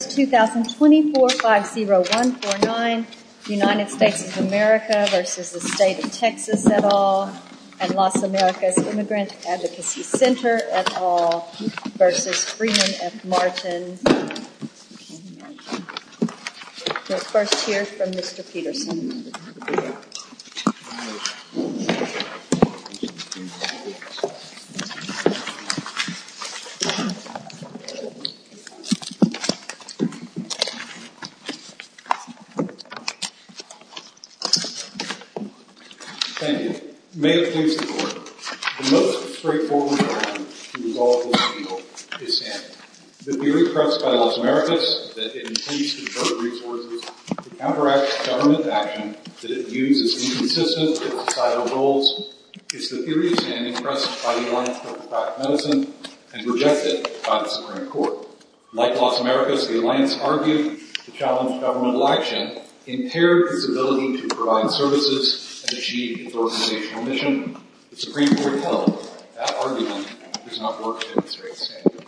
2024-50149, United States of America v. State of Texas et al., and Los Americas Immigrant Thank you. May it please the Court, the most straightforward argument to resolve this deal is standing. The theory pressed by Los Americas that it intends to divert resources to counteract government action, that it views as inconsistent with societal goals, is the theory of standing pressed by the Alliance for Applied Medicine and rejected by the Supreme Court. Like Los Americas, the Alliance argued the challenge of governmental action impaired its ability to provide services and achieve its organizational mission. The Supreme Court held that argument does not work to demonstrate standing.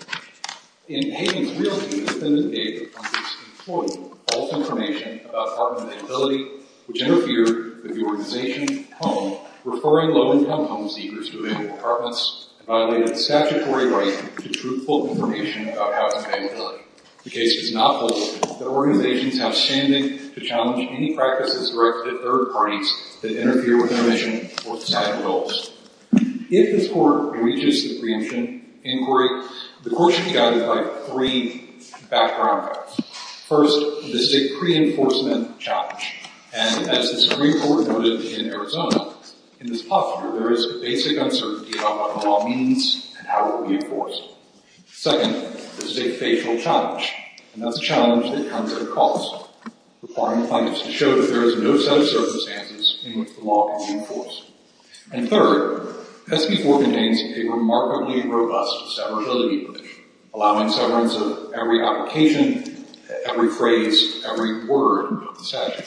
In Hayden's real view, the defendant gave the plaintiff's employee false information about apartment availability, which interfered with the organization's home, referring low-income home seekers to available apartments and violated statutory right to truthful information about housing availability. The case does not hold that organizations have standing to challenge any practices directed at third parties that interfere with their mission or societal goals. If this Court reaches the preemption inquiry, the Court should be guided by three background facts. First, this is a pre-enforcement challenge, and as the Supreme Court noted in Arizona, in this posture there is a basic uncertainty about what the law means and how it will be enforced. Second, this is a facial challenge, and that's a challenge that comes at a cost, requiring the plaintiff to show that there is no set of circumstances in which the law can be enforced. And third, SB 4 contains a remarkably robust severability provision, allowing severance of every application, every phrase, every word of the statute.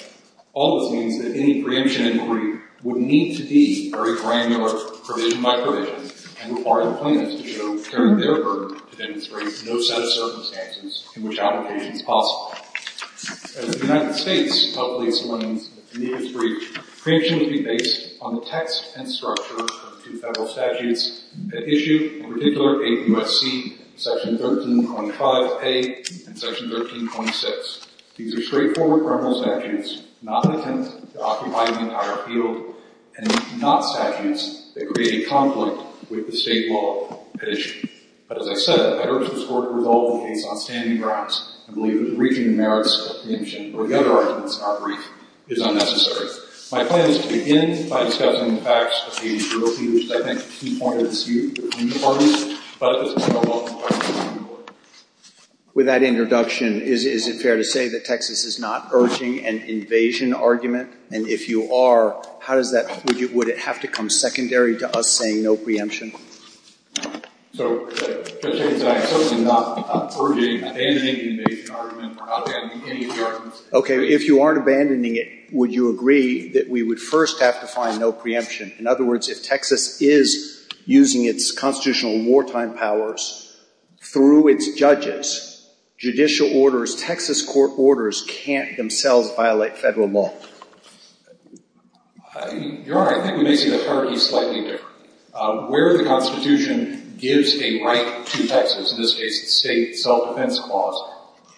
All of this means that any preemption inquiry would need to be very granular, provision by provision, and require the plaintiffs to show, bearing their burden, to demonstrate no set of circumstances in which application is possible. As the United States held the explanation at the Geneva speech, preemption would be based on the text and structure of two federal statutes that issue, in particular, 8 U.S.C., Section 13.5A, and Section 13.6. These are straightforward criminal statutes, not intended to occupy the entire field, and not statutes that create a conflict with the state law at issue. But as I said, I urge the Court to resolve the case on standing grounds and believe that the briefing merits of preemption or the other arguments in our brief is unnecessary. My plan is to begin by discussing the facts of the agency, which I think is a key point of this brief. With that introduction, is it fair to say that Texas is not urging an invasion argument? And if you are, how does that – would it have to come secondary to us saying no preemption? So, Judge Higgins, I am certainly not urging abandoning the invasion argument or not abandoning any of the arguments. Okay. If you aren't abandoning it, would you agree that we would first have to find no preemption? In other words, if Texas is using its constitutional wartime powers through its judges, judicial orders, Texas court orders, can't themselves violate federal law? Your Honor, I think we may see the hierarchy slightly different. Where the Constitution gives a right to Texas, in this case the state self-defense clause,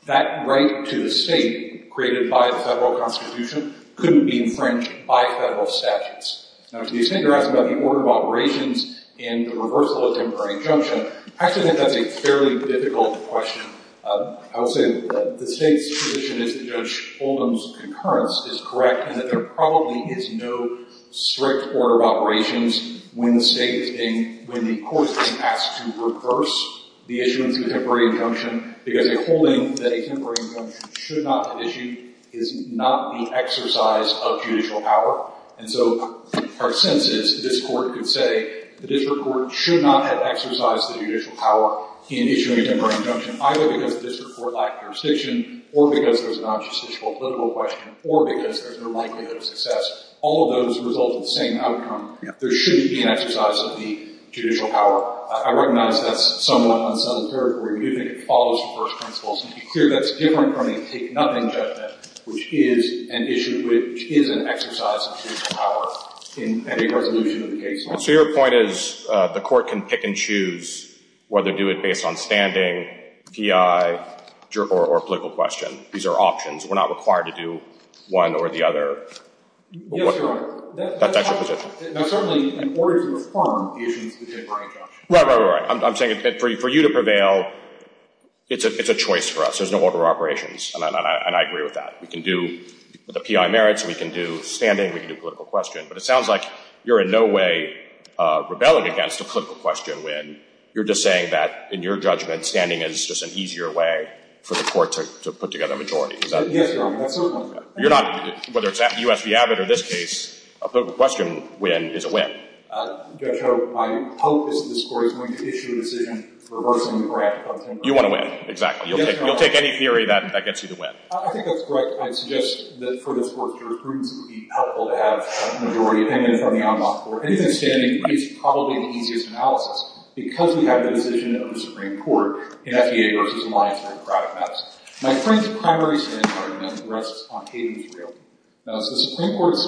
that right to the state created by the federal Constitution, couldn't be infringed by federal statutes. Now, to the extent you're asking about the order of operations in the reversal of temporary injunction, I actually think that's a fairly difficult question. I will say that the state's position is that Judge Oldham's concurrence is correct, and that there probably is no strict order of operations when the state is being – when the court is being asked to reverse the issuance of a temporary injunction because they're saying that the issue is not the exercise of judicial power. And so our sense is this court could say the district court should not have exercised the judicial power in issuing a temporary injunction, either because the district court lacked jurisdiction, or because there's an unjusticiable political question, or because there's no likelihood of success. All of those result in the same outcome. There shouldn't be an exercise of the judicial power. I recognize that's somewhat an unsettled category. We do think it follows the first principle, so to be clear, that's different from a take-nothing judgment, which is an issue – which is an exercise of judicial power in a resolution of the case. So your point is the court can pick and choose whether to do it based on standing, GI, or a political question. These are options. We're not required to do one or the other. Yes, Your Honor. That's actually the position. Now, certainly, in order to reform the issuance of the temporary injunction – Right, right, right. I'm saying for you to prevail, it's a choice for us. There's no order of operations, and I agree with that. We can do the PI merits, we can do standing, we can do political question. But it sounds like you're in no way rebelling against a political question win. You're just saying that, in your judgment, standing is just an easier way for the court to put together a majority. Yes, Your Honor. You're not – whether it's U.S. v. Abbott or this case, a political question win is a win. Judge Howe, my hope is that this Court is going to issue a decision reversing the grant of the temporary injunction. You want to win, exactly. Yes, Your Honor. You'll take any theory that gets you the win. I think that's correct. I'd suggest that, for this Court's jurisprudence, it would be helpful to have a majority opinion from the Ombuds Court. Anything standing is probably the easiest analysis because we have the decision of the Supreme Court in FDA v. Alliance for Democratic Matters. My friend's primary standing argument rests on Haven's realty. Now, as the Supreme Court's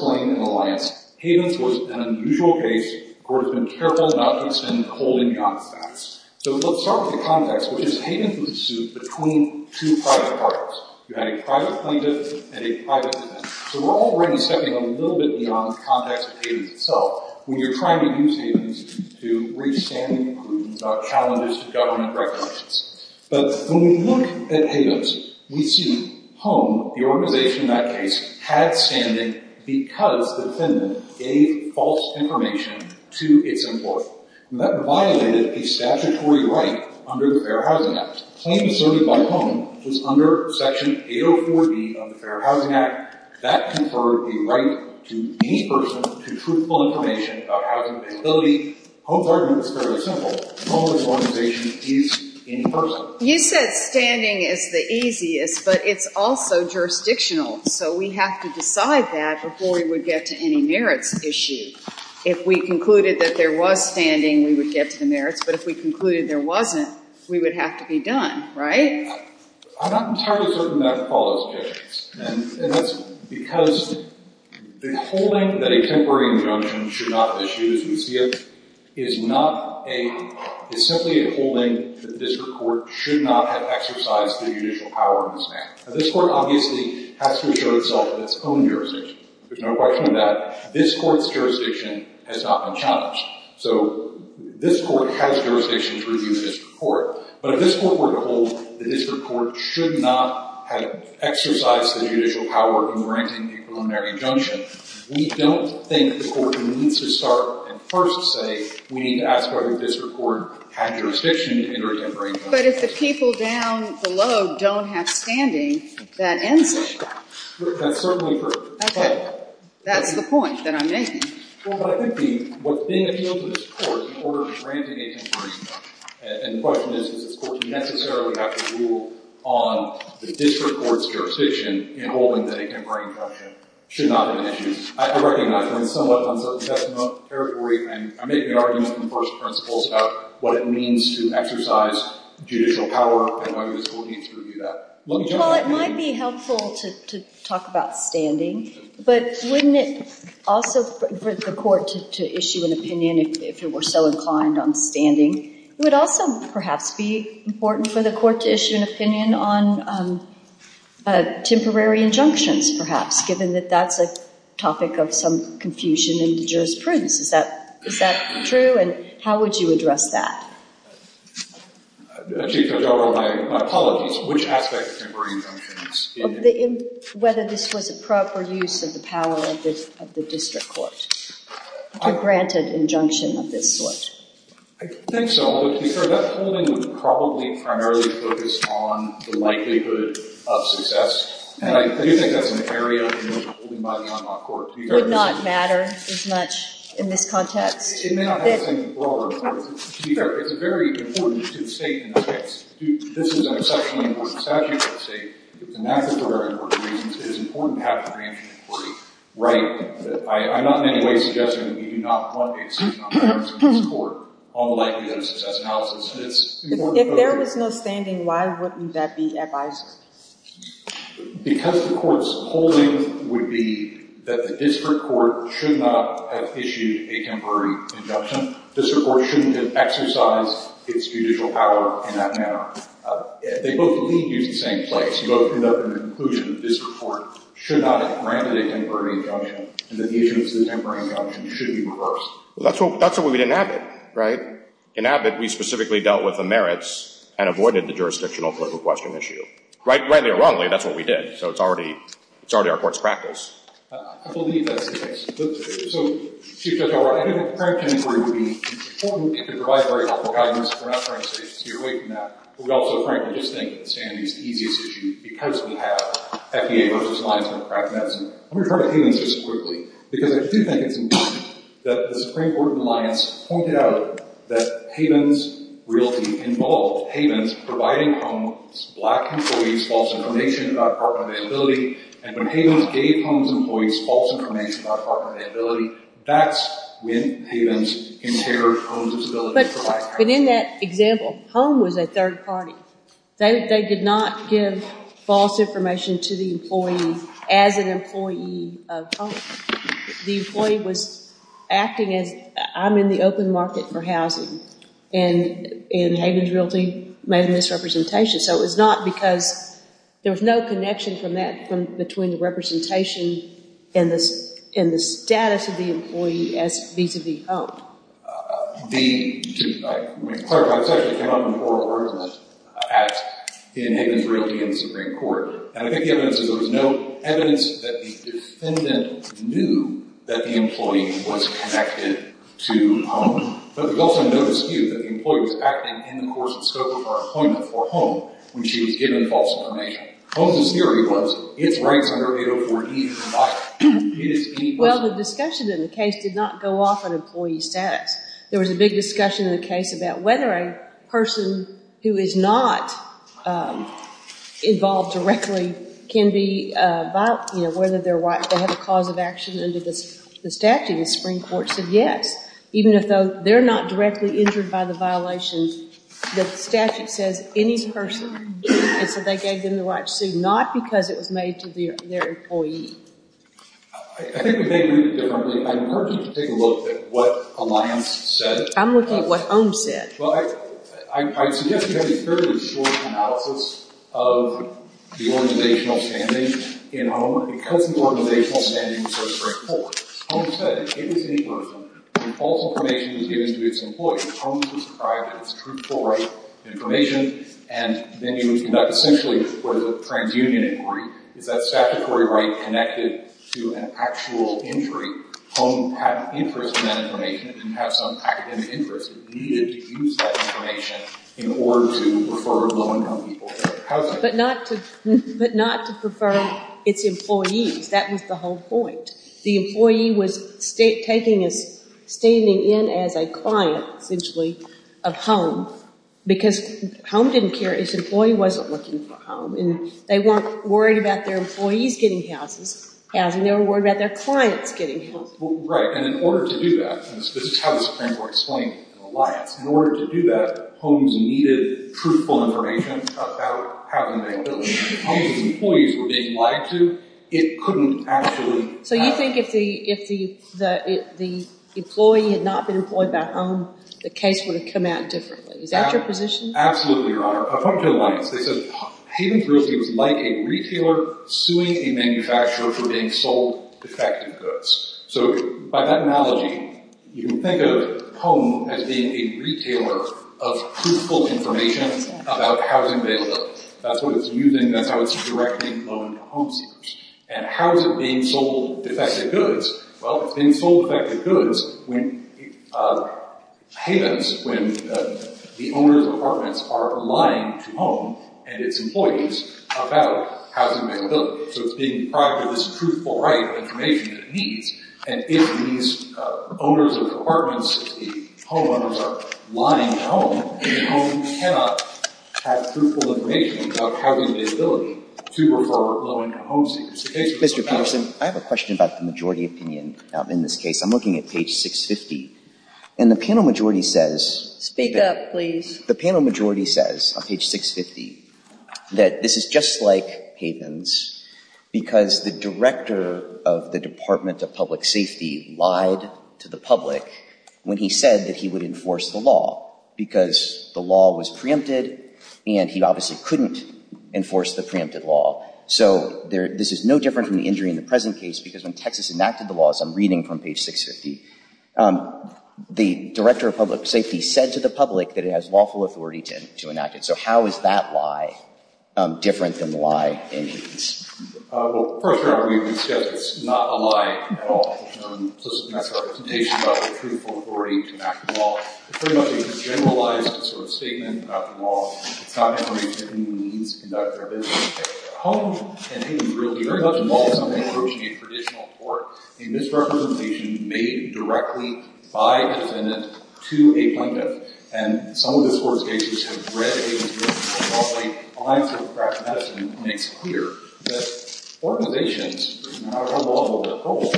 usual case, the Court has been careful not to extend the holding beyond that. So let's start with the context, which is Haven's pursuit between two private parties. You had a private plaintiff and a private defendant. So we're already stepping a little bit beyond the context of Haven's itself when you're trying to use Haven's to reach standing prudence about challenges to government regulations. But when we look at Haven's, we see Home, the organization in that case, had standing because the defendant gave false information to its employer. That violated a statutory right under the Fair Housing Act. The claim asserted by Home was under Section 804B of the Fair Housing Act. That conferred the right to any person to truthful information about housing feasibility. Home's argument is fairly simple. Home, this organization, is any person. You said standing is the easiest, but it's also jurisdictional. So we have to decide that before we would get to any merits issue. If we concluded that there was standing, we would get to the merits. But if we concluded there wasn't, we would have to be done, right? I'm not entirely certain that would cause those issues. And that's because the holding that a temporary injunction should not have issued, as we see it, is simply a holding that the district court should not have exercised the judicial power in this manner. Now, this court obviously has to show itself in its own jurisdiction. There's no question of that. This court's jurisdiction has not been challenged. So this court has jurisdiction to review the district court. But if this court were to hold the district court should not have exercised the judicial power in granting a preliminary injunction, we don't think the court needs to start and first say, we need to ask whether the district court had jurisdiction in their temporary injunction. But if the people down below don't have standing, that ends it. That's certainly true. Okay. That's the point that I'm making. But I think what's being appealed to this court in order to grant a temporary injunction and the question is, does this court necessarily have to rule on the district court's jurisdiction in holding that a temporary injunction should not have issued? I recognize that it's somewhat uncertain testimony and I make the argument in the first principles about what it means to exercise judicial power and why this court needs to review that. Well, it might be helpful to talk about standing, but wouldn't it also for the court to issue an opinion if it were so inclined on standing? It would also perhaps be important for the court to issue an opinion on temporary injunctions, perhaps, given that that's a topic of some Chief Judge, I apologize. Which aspect of temporary injunctions? Whether this was a proper use of the power of the district court to grant an injunction of this sort. I think so. But, Chief Judge, that holding would probably primarily focus on the likelihood of success. And I do think that's an area in which we're holding by the on-law court. It would not matter as much in this context? It may not have the same broader importance. To be fair, it's very important to the State in this case. This is an exceptionally important statute for the State, and that's for very important reasons. It is important to have a granted inquiry, right? I'm not in any way suggesting that we do not want a decision on temporary injunctions in this court on the likelihood of success analysis. If there was no standing, why wouldn't that be advisable? Because the court's holding would be that the district court should not have issued a temporary injunction. The district court shouldn't have exercised its judicial power in that manner. They both lead you to the same place. You go to the conclusion that the district court should not have granted a temporary injunction and that the issue of the temporary injunction should be reversed. Well, that's what we did in Abbott, right? In Abbott, we specifically dealt with the merits and avoided the jurisdictional political question issue. Rightly or wrongly, that's what we did. So it's already our court's practice. I believe that's the case. So Chief Judge Albright, I do think a grant inquiry would be important. It could provide very helpful guidance. We're not trying to steer away from that. But we also frankly just think that the standing is the easiest issue because we have FBA versus linesman practice. Let me refer to Havens just quickly, because I do think it's important that the Supreme Court and Alliance pointed out that Havens really involved Havens providing Holmes black employees false information about apartment availability. That's when Havens inherited Holmes' ability to provide housing. But in that example, Holmes was a third party. They did not give false information to the employee as an employee of Holmes. The employee was acting as I'm in the open market for housing and in Havens' realty made a misrepresentation. So it was not because there was no connection from that between the representation and the status of the employee as vis-à-vis Holmes. To clarify, this actually came up in oral argument in Havens' realty in the Supreme Court. And I think the evidence is there was no evidence that the defendant knew that the employee was connected to Holmes. But there's also no dispute that the employee was acting in the course and scope of her appointment for Holmes when she was given false information. Holmes' theory was it's right under 804E. Well, the discussion in the case did not go off on employee status. There was a big discussion in the case about whether a person who is not involved directly can be, you know, whether they have a cause of action under the statute. The Supreme Court said yes. Even if they're not directly injured by the violation, the statute says any person, and so they gave them the right to sue, not because it was made to their employee. I think we may read it differently. I encourage you to take a look at what Alliance said. I'm looking at what Holmes said. Well, I suggest you have a fairly short analysis of the organizational standing in Holmes. Because the organizational standing was so straightforward, Holmes said it was any person when false information was given to its employee. Holmes described it as truthful, right information. And then you would conduct essentially what is a transunion inquiry. Is that statutory right connected to an actual injury? Holmes had an interest in that information. It didn't have some academic interest. It needed to use that information in order to refer low-income people to housing. But not to prefer its employees. That was the whole point. The employee was taking a standing in as a client, essentially, of home. Because home didn't care. Its employee wasn't looking for home. And they weren't worried about their employees getting houses. They were worried about their clients getting houses. Right. And in order to do that, and this is how the Supreme Court explained it in Alliance, in order to do that, Holmes needed truthful information about housing availability. If Holmes' employees were being lied to, it couldn't actually happen. So you think if the employee had not been employed by home, the case would have come out differently. Is that your position? Absolutely, Your Honor. According to Alliance, they said Hayden's Realty was like a retailer suing a manufacturer for being sold defective goods. So by that analogy, you can think of home as being a retailer of truthful information about housing availability. That's what it's And how is it being sold defective goods? Well, it's being sold defective goods when Hayden's, when the owners of apartments are lying to home and its employees about housing availability. So it's being deprived of this truthful, right information that it needs. And if these owners of apartments, the homeowners, are lying to home, then the home cannot have truthful information about housing availability to refer low-income home seekers. Mr. Peterson, I have a question about the majority opinion in this case. I'm looking at page 650, and the panel majority says Speak up, please. The panel majority says on page 650 that this is just like Hayden's because the director of the Department of Public Safety lied to the public when he said that he would enforce the law because the law was preempted, and he obviously couldn't enforce the preempted law. So this is no different from the injury in the present case because when Texas enacted the laws, I'm reading from page 650, the director of public safety said to the public that it has lawful authority to enact it. So how is that lie different than the lie in Hayden's? Well, first of all, we would suggest it's not a lie at all. That's our presentation about the truthful authority to enact the law. It's pretty much a generalized sort of statement about the law. It's not information that anyone needs to conduct their business at home. And Hayden's really very much involved in something approaching a traditional court, a misrepresentation made directly by a defendant to a plaintiff. And some of this court's cases have read Hayden's case, and probably Alliance for the Practice of Medicine makes clear that organizations, regardless of their roles,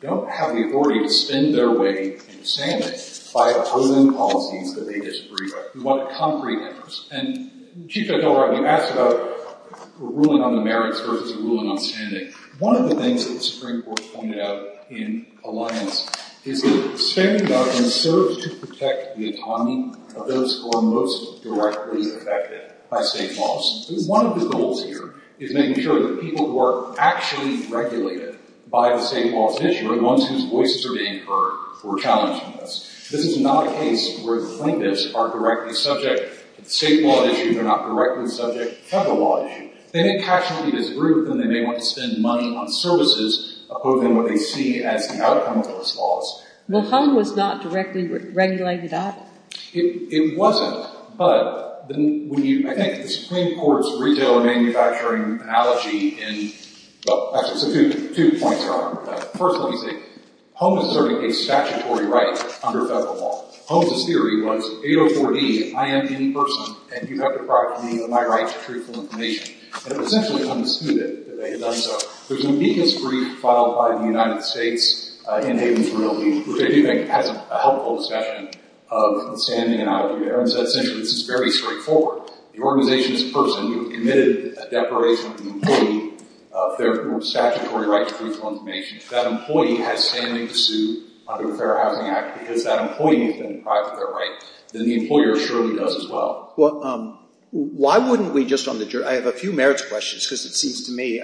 don't have the authority to spend their way in standing by opposing policies that they disagree with. We want a concrete interest. And Chief Justice O'Rourke, you asked about a ruling on the merits versus a ruling on standing. One of the things that the Supreme Court pointed out in Alliance for the Practice of Medicine is that standing up serves to protect the autonomy of those who are most directly affected by state laws. One of the goals here is making sure that people who are actually regulated by the state law at issue are the ones whose voices are being heard who are challenged in this. This is not a case where the plaintiffs are directly subject to the state law at issue. They're not directly subject to the federal law at issue. They may casually disagree with them. They may want to spend money on services opposing what they see as the outcome of those laws. Well, HOME was not directly regulated at? It wasn't, but I think the Supreme Court's retail and manufacturing analogy in – well, actually, so two points are on that. First one is that HOME is serving a statutory right under federal law. HOME's theory was 804D, I am in person, and you have the property of my right to truthful information. And it essentially understood that they had done so. There's an amicus brief filed by the United States in Hayden's Realty, which I do think has a helpful discussion of the standing analogy there. And so essentially this is very straightforward. The organization's person who committed a deprivation of the employee of their statutory right to truthful information, if that employee has standing to sue under the Fair Housing Act because that employee has been deprived of their right, then the employer surely does as well. Well, why wouldn't we just on the – I have a few merits questions because it seems to me –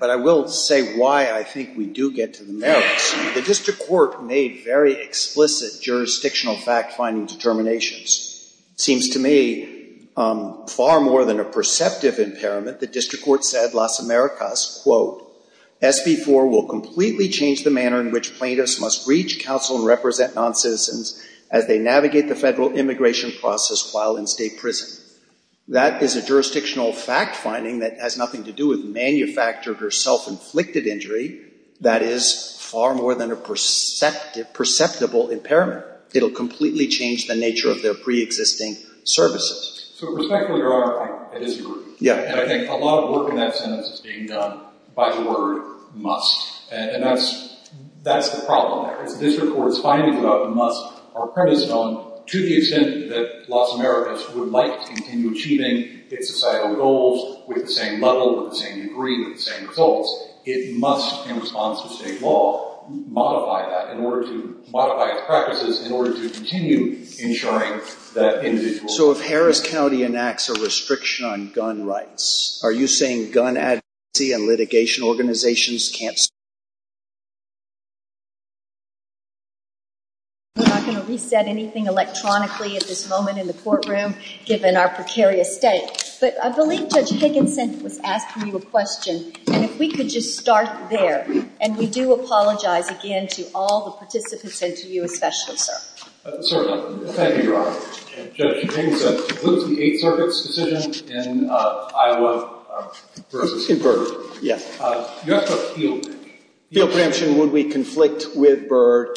but I will say why I think we do get to the merits. The district court made very explicit jurisdictional fact-finding determinations. Seems to me far more than a perceptive impairment, the district court said Las Americas, quote, SB 4 will completely change the manner in which plaintiffs must reach counsel and represent noncitizens as they navigate the federal immigration process while in state prison. That is a jurisdictional fact-finding that has nothing to do with manufactured or self-inflicted injury. That is far more than a perceptible impairment. It will completely change the nature of their preexisting services. So respectfully, Your Honor, I disagree. Yeah. And I think a lot of work in that sense is being done by the word must. And that's the problem there. It's the district court's findings about the must are premised on to the extent that Las Americas would like to continue achieving its societal goals with the same level, with the same degree, with the same results. It must, in response to state law, modify that in order to – modify its practices in order to continue ensuring that individuals… So if Harris County enacts a restriction on gun rights, are you saying gun advocacy and litigation organizations can't stay? We're not going to reset anything electronically at this moment in the courtroom, given our precarious state. But I believe Judge Higginson was asking you a question. And if we could just start there. And we do apologize again to all the participants and to you especially, Certainly. Thank you, Your Honor. Judge Higginson, what is the Eighth Circuit's decision in Iowa versus… Converter. Yes. You asked about field preemption. Field preemption, would we conflict with Byrd?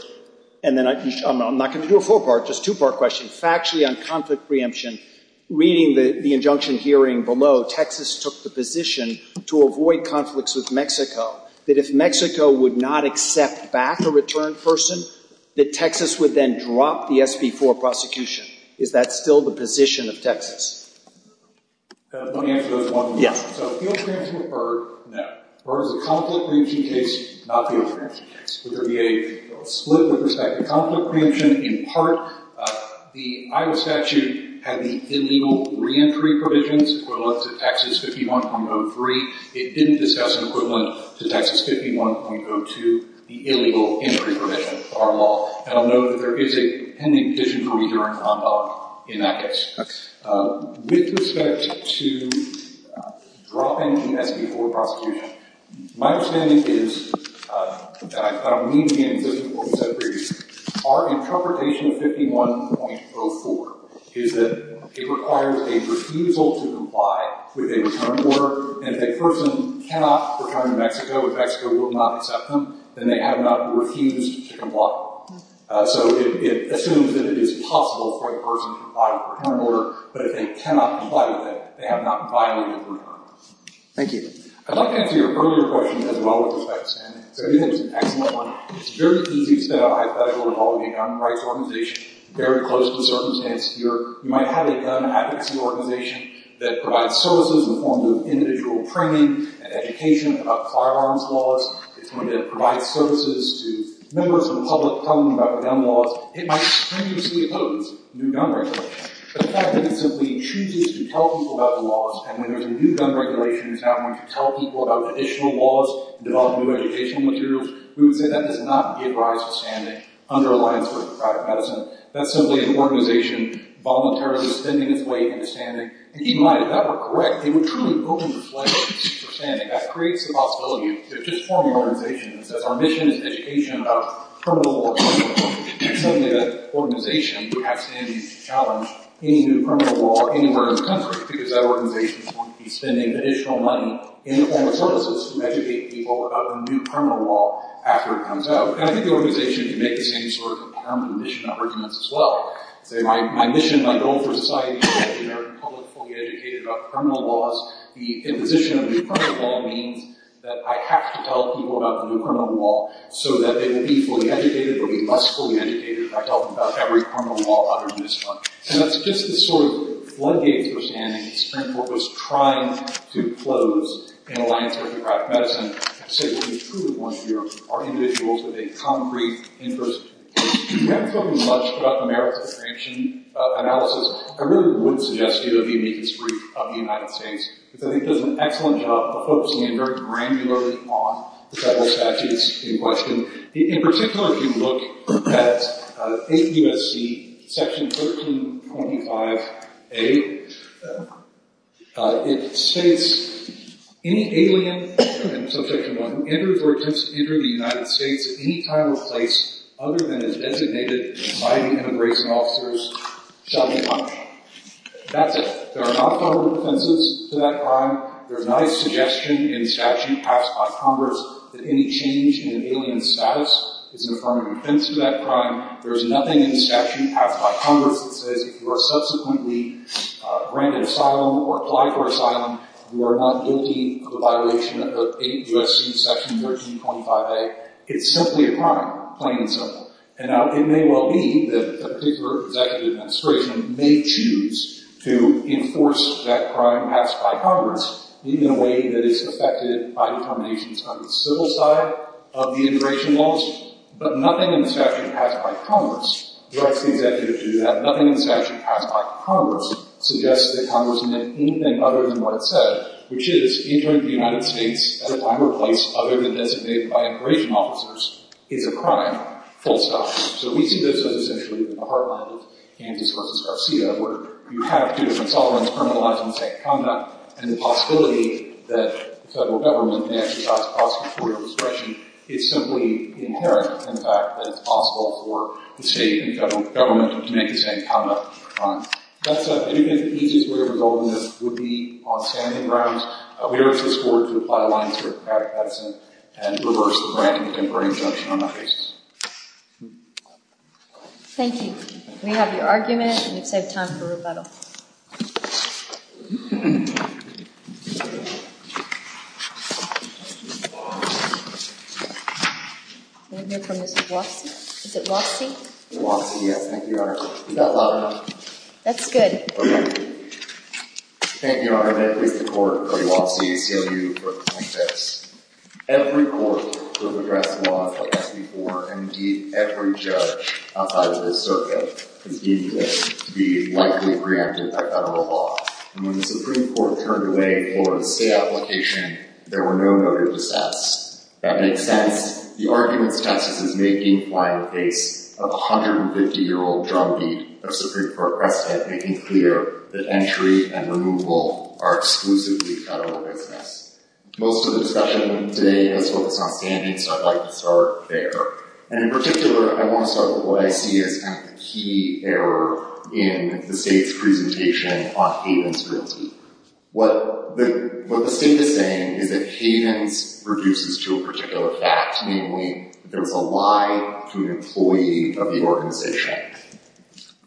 And then I'm not going to do a four-part, just two-part question. Factually on conflict preemption, reading the injunction hearing below, Texas took the position to avoid conflicts with Mexico, that if Mexico would not accept back a returned person, that Texas would then drop the SB4 prosecution. Is that still the position of Texas? Let me answer those one more time. Yes. So field preemption with Byrd, no. Byrd is a conflict preemption case, not a field preemption case. Would there be a split with respect to conflict preemption in part? The Iowa statute had the illegal reentry provisions equivalent to Texas 51.03. It didn't discuss an equivalent to Texas 51.02, the illegal entry provision of our law. And I'll note that there is a drop in the SB4 prosecution. My understanding is that I don't need to be in existence for what you said previous. Our interpretation of 51.04 is that it requires a refusal to comply with a return order. And if a person cannot return to Mexico, if Mexico would not accept them, then they have not refused to comply. So it assumes that it is possible for a person to comply with a return order. But if they cannot comply with that, they have not violated the return order. Thank you. I'd like to answer your earlier question as well with respect to standing. So I think that was an excellent one. It's very easy to set up hypothetical involving a gun rights organization. Very close to the circumstance here. You might have a gun advocacy organization that provides services in the form of individual training and education about firearms laws. It's going to provide services to members of the public talking about gun laws. It might continuously oppose new gun regulations. The fact that it simply chooses to tell people about the laws, and when there's a new gun regulation, it's not going to tell people about additional laws and develop new educational materials, we would say that does not give rise to standing under a line of sort of private medicine. That's simply an organization voluntarily spending its weight into standing. And keep in mind, if that were correct, it would truly open the floodgates for standing. That creates the possibility of just forming an organization that says our mission is education about criminal law. And suddenly that organization has standing to challenge any new criminal law anywhere in the country, because that organization is going to be spending additional money in the form of services to educate people about the new criminal law after it comes out. And I think the organization can make the same sort of determined mission arguments as well. Say my mission, my goal for society is to educate the American public fully educated about criminal laws. The imposition of new criminal law, so that they will be fully educated or be less fully educated about every criminal law other than this one. And that's just the sort of floodgates for standing that the Supreme Court was trying to close in a line of sort of private medicine to say, well we truly want to be able to support individuals with a concrete interest. We haven't talked much about the merits of the sanction analysis. I really wouldn't suggest you the uniqueness brief of the United States, because I think it does an excellent job of focusing very granularly on federal statutes in question. In particular, if you look at 8 U.S.C. section 1325A, it states, any alien subject to law who enters or attempts to enter the United States at any time or place other than as designated by the immigration officers shall be fined. That's it. There are not federal defenses to that crime. There are not a suggestion in statute passed by Congress that any change in an alien's status is an affirmative defense to that crime. There is nothing in statute passed by Congress that says if you are subsequently granted asylum or applied for asylum, you are not guilty of a violation of 8 U.S.C. section 1325A. It's simply a crime, plain and simple. And it may well be that a particular executive administration may choose to enforce that by Congress, even in a way that is affected by determinations on the civil side of the immigration laws. But nothing in the statute passed by Congress directs the executive to do that. Nothing in the statute passed by Congress suggests that Congress admitted anything other than what it said, which is entering the United States at a time or place other than designated by immigration officers is a crime, full stop. So we see this as essentially the heartland of Gantz v. Garcia, where you have two different sovereigns criminalizing the same conduct, and the possibility that the federal government may exercise prosecutorial discretion is simply inherent in the fact that it's possible for the state and federal government to make the same conduct. That's it. I do think the easiest way of resolving this would be on standing grounds. We urge this Court to apply a line of therapeutic medicine and reverse the granting of temporary exemption on that basis. Thank you. We have your argument, and we've saved time for rebuttal. I want to hear from Mr. Watsy. Is it Watsy? Watsy, yes. Thank you, Your Honor. Is that loud enough? That's good. Okay. Thank you, Your Honor. That is the Court. Watsy, ACLU. Every court will address laws like this before, and indeed, every judge outside of this circuit is eager to be likely preempted by federal law. And when the Supreme Court turned away Florida's state application, there were no noted dissents. That makes sense. The argument testifies to making flying the case of a 150-year-old drumbeat of Supreme Court precedent, making clear that entry and removal are exclusively federal business. Most of the discussion today is focused on standing, so I'd like to start there. And in particular, I want to start with what I see as kind of the key error in the state's presentation on Havens Realty. What the state is saying is that Havens reduces to a particular fact, namely that it's a lie to an employee of the organization.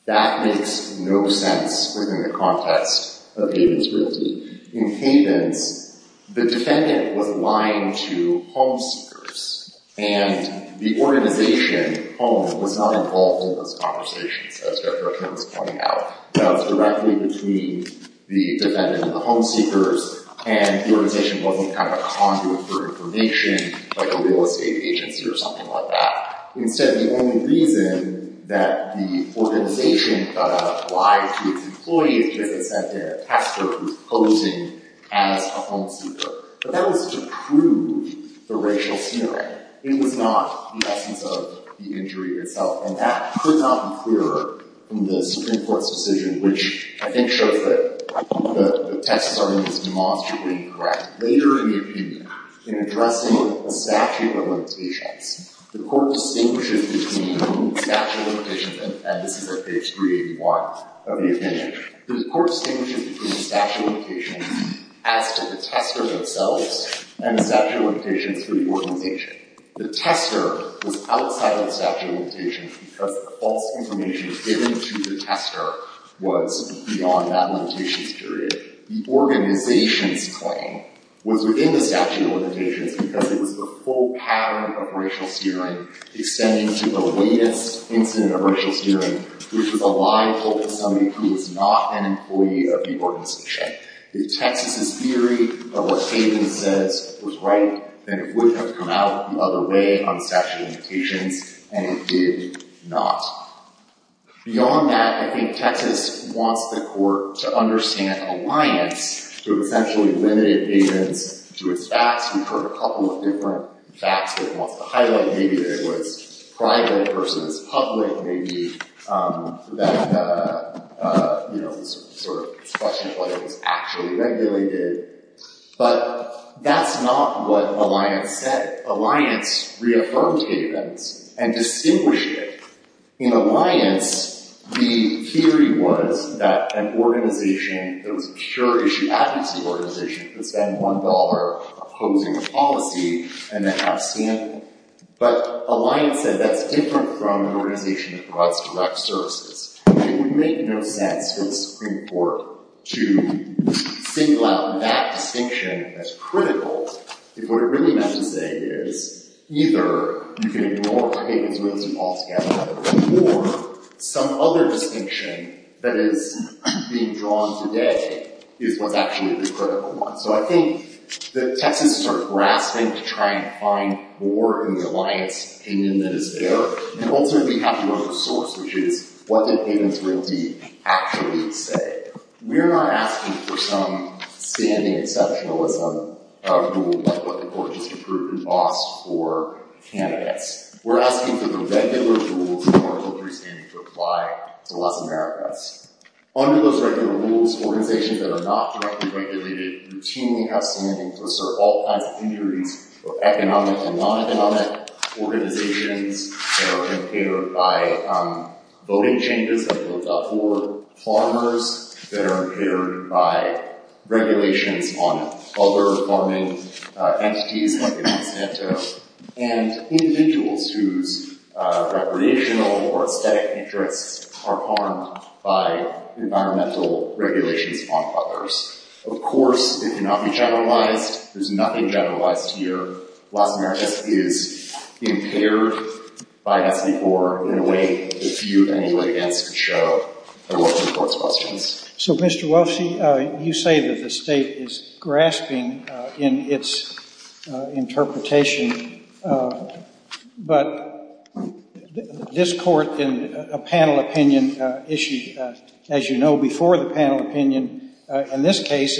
That makes no sense within the context of Havens Realty. In Havens, the defendant was lying to home seekers, and the organization home was not involved in those conversations, as Dr. O'Connor was pointing out. That was directly between the defendant and the home seekers, and the organization wasn't kind of conduit for information, like a real estate agency or something like that. Instead, the only reason that the organization lied to its employees is because it sent in a tester who's posing as a home seeker. But that was to prove the racial smearing. It was not the essence of the injury itself. And that could not be clearer from the Supreme Court's decision, which I think shows that the test starting is demonstrably incorrect. Later in the opinion, in addressing the statute of limitations, the court distinguishes between the statute of limitations, and this is at page 381 of the opinion, the court distinguishes between the statute of limitations as to the tester themselves and the statute of limitations for the organization. The tester was outside of the statute of limitations because the false information given to the tester was beyond that limitations period. The organization's claim was within the statute of limitations because it was the full pattern of racial smearing extending to the latest incident of racial smearing, which was a lie told to somebody who was not an employee of the organization. If Texas' theory of what Hayden says was right, then it would have come out the other way on statute of limitations, and it did not. Beyond that, I think Texas wants the court to understand an alliance to essentially limit Hayden's, to his facts. We've heard a couple of different facts that it wants to highlight. Maybe that it was private versus public. Maybe that, you know, sort of question of whether it was actually regulated, but that's not what alliance said. Alliance reaffirmed Hayden's and distinguished it. In alliance, the theory was that an organization that was a pure issue advocacy organization could spend $1 opposing a policy and then have a stand. But alliance said that's different from an organization that provides direct services. It would make no sense for the Supreme Court to single out that distinction as critical if what it really meant to say is either you can ignore what Hayden's willing to call together or some other distinction that is being drawn today is what's actually the critical one. So I think that Texas starts grasping to try and find more in the alliance opinion that is there and ultimately have to run for source, which is what did Hayden's realty actually say? We're not asking for some standing exceptionalism rule like what the court just approved in Moss for candidates. We're asking for the regular rules in our country's standing to apply to less Americans. Under those regular rules, organizations that are not directly regulated routinely have standing to assert all kinds of injuries of economic and non-economic organizations that are impaired by voting changes that build up for farmers, that are impaired by regulations on other farming entities, like in Monsanto, and individuals whose recreational or aesthetic interests are harmed by environmental regulations on others. Of course, it cannot be generalized. There's nothing generalized here. Los Americas is impaired by S.B. Gore in a way that few anybody else can show. So Mr. Wolfsey, you say that the state is grasping in its interpretation, but this court in a panel opinion issue, as you know, before the panel opinion, in this case,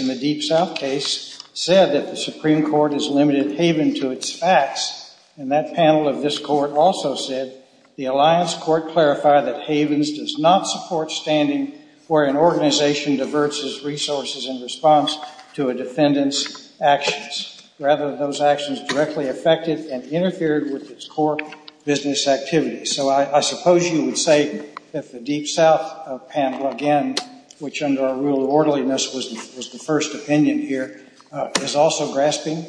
said that the Supreme Court has limited Hayden to its facts. And that panel of this court also said, the alliance court clarified that Hayden's does not support standing where an organization diverts its resources in response to a defendant's actions. Rather, those actions directly affected and interfered with its core business activity. So I suppose you would say that the Deep South panel, again, which under our rule of orderliness was the first opinion here, is also grasping?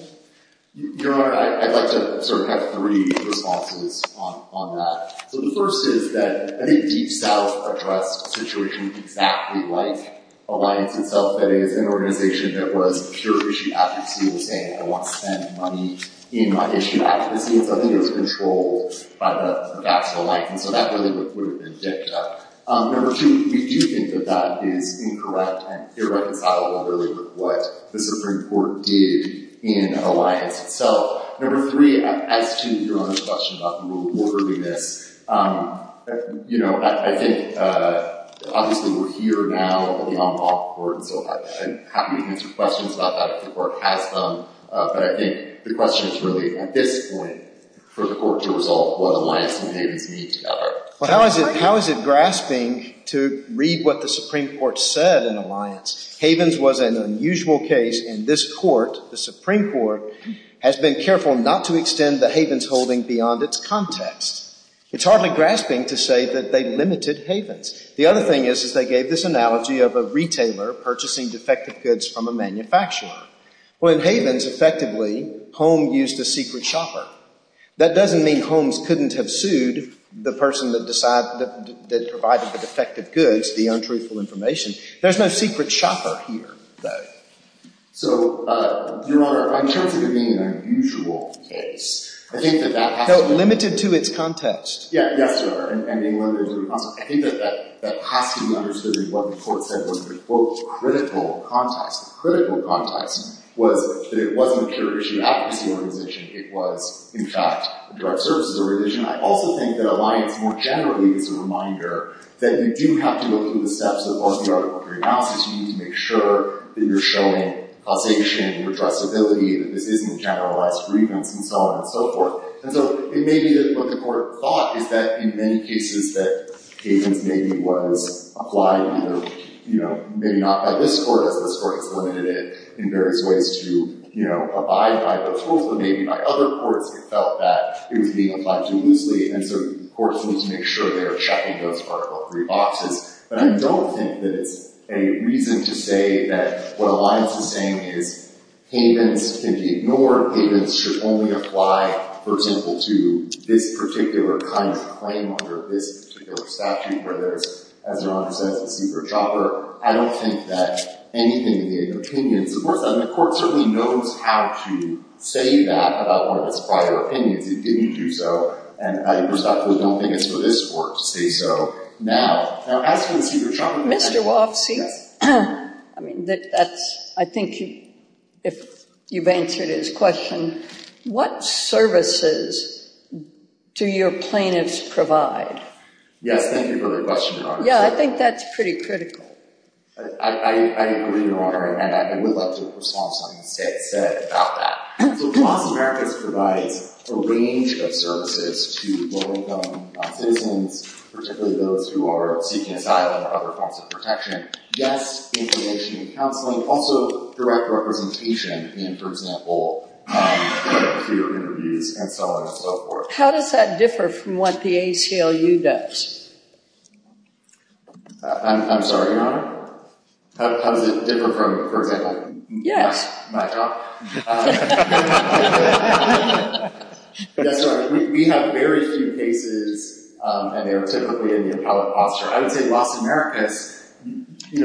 Your Honor, I'd like to sort of have three responses on that. So the first is that I think Deep South addressed a situation exactly like Alliance itself, that is, an organization that was pure issue advocacy and saying, I want to spend money in my issue advocacy. And so I think it was controlled by the facts of Alliance. And so that really would have been picked up. Number two, we do think that that is incorrect and irreconcilable, really, with what the Supreme Court did in Alliance itself. Number three, as to Your Honor's question about the rule of orderliness, you know, I think, obviously, we're here now at the on-law court, and so I'm happy to answer questions about that if the Court has them. But I think the question is really at this point for the Court to resolve what Alliance and Havens mean together. Well, how is it grasping to read what the Supreme Court said in Alliance? Havens was an unusual case, and this Court, the Supreme Court, has been careful not to extend the Havens holding beyond its context. It's hardly grasping to say that they limited Havens. The other thing is, is they gave this analogy of a retailer purchasing defective goods from a manufacturer. Well, in Havens, effectively, Holmes used a secret shopper. That doesn't mean Holmes couldn't have sued the person that provided the defective goods, the untruthful information. There's no secret shopper here, though. So, Your Honor, in terms of it being an unusual case, I think that that has to be understood. No, limited to its context. Yes, Your Honor, and limited to its context. I think that that has to be understood in what the Court said was the, quote, critical context. The critical context was that it wasn't a curiosity or advocacy organization. It was, in fact, a direct services organization. I also think that Alliance, more generally, is a reminder that you do have to go through the steps that are in the Article III analysis. You need to make sure that you're showing causation, redressability, that this isn't generalized grievance, and so on and so forth. And so, it may be that what the Court thought is that in many cases that Havens maybe was applied either, you know, maybe not by this Court, as this Court has limited it in various ways to, you know, abide by those rules, but maybe by other courts, it felt that it was being applied to loosely, and so courts need to make sure they're checking those Article III boxes. But I don't think that it's a reason to say that what Alliance is saying is Havens can be ignored. Havens should only apply, for example, to this particular kind of claim under this particular statute, where there's, as Your Honor says, a secret chopper. I don't think that anything in the opinion supports that, and the Court certainly knows how to say that about one of its prior opinions if it didn't do so, and I personally don't think it's for this Court to say so now. Now, as for the secret chopper... Mr. Wofsy, I mean, that's, I think if you've answered his question, what services do your plaintiffs provide? Yes, thank you for the question, Your Honor. Yeah, I think that's pretty critical. I agree, Your Honor, and I would like to respond to something the State said about that. So yes, information and counseling, also direct representation in, for example, peer interviews and so on and so forth. How does that differ from what the ACLU does? I'm sorry, Your Honor? How does it differ from, for example, my job? Yes. Yes, Your Honor, we have very few cases, and they're typically in the appellate posture. I would say Los Americas...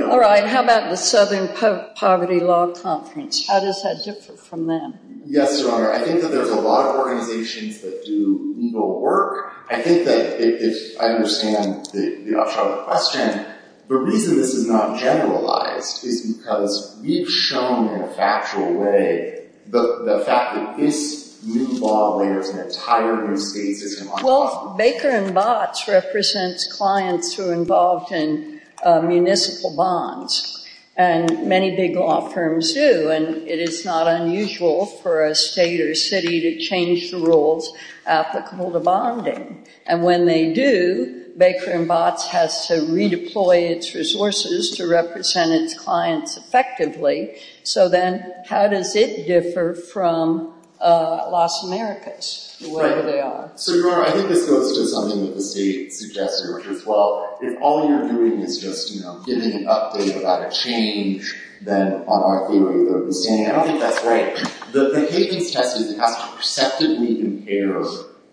All right, how about the Southern Poverty Law Conference? How does that differ from them? Yes, Your Honor, I think that there's a lot of organizations that do legal work. I think that if I understand the off-shoulder question, the reason this is not generalized is because we've shown in a factual way the fact that this new law layers an entire new state system on top of it. Well, Baker & Botts represents clients who are involved in municipal bonds, and many big law firms do, and it is not unusual for a state or city to change the rules applicable to bonding. And when they do, Baker & Botts has to redeploy its resources to represent its clients effectively, so then how does it differ from Los Americas, whatever they are? Right. So, Your Honor, I think this goes to something that the state suggested, which is, well, if all you're doing is just, you know, giving an update about a change, then on our theory of understanding, I don't think that's right. The Higgins test has to perceptively compare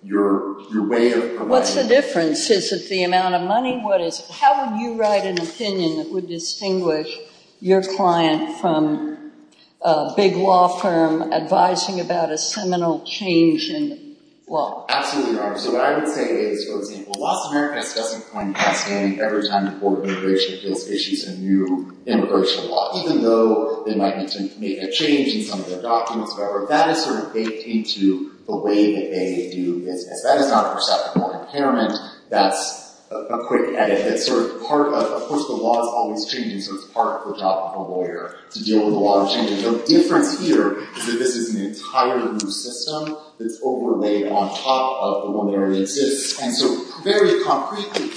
your way of providing... What's the difference? Is it the amount of money? What is it? How would you write an update to distinguish your client from a big law firm advising about a seminal change in law? Absolutely, Your Honor. So what I would say is, for example, Los Americas doesn't point us in every time before immigration appeals issues a new immigration law, even though they might intend to make a change in some of their documents, whatever. That is sort of baked into the way that they do business. That is not a perceptible impairment. That's a quick edit. That's sort of part of... Of course, the law is always changing, so it's part of the job of a lawyer to deal with the law changing. The difference here is that this is an entirely new system that's overlaid on top of the one that already exists. And so, very concretely,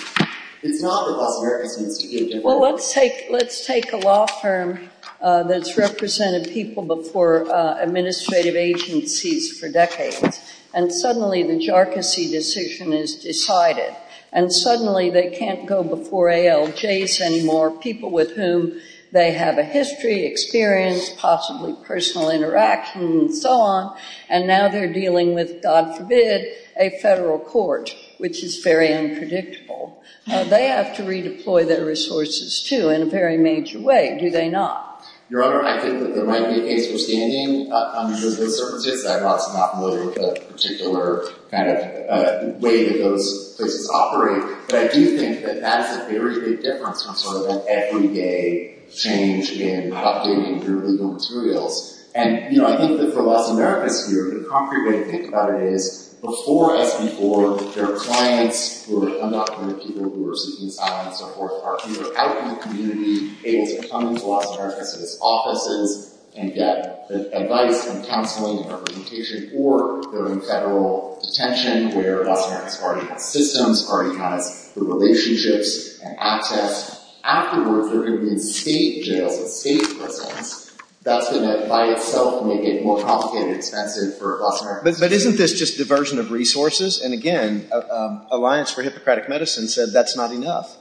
it's not that Los Americas needs to get... Well, let's take a law firm that's represented people before administrative agencies for decades, and suddenly the jarczy decision is decided. And suddenly they can't go before ALJs anymore, people with whom they have a history, experience, possibly personal interaction, and so on. And now they're dealing with, God forbid, a federal court, which is very unpredictable. They have to redeploy their resources, too, in a very major way. Do they not? Your Honor, I think that there might be a case for standing under those circumstances. I'm also not familiar with the particular kind of way that those places operate. But I do think that that is a very big difference from sort of an everyday change in updating your legal materials. And I think that for Los Americas here, the concrete way to think about it is, before SB 4, there are clients who are undocumented people who are seeking asylum, so forth, who are out in the community, able to come into Los Americas' offices and get advice and counseling and representation. Or they're in federal detention where Los Americas already has systems, already has the relationships and access. Afterwards, they're going to be in state jails and state prisons. That's going to, by itself, make it more complicated and expensive for Los Americas. But isn't this just diversion of resources? And again, Alliance for Hippocratic Medicine said that's not enough.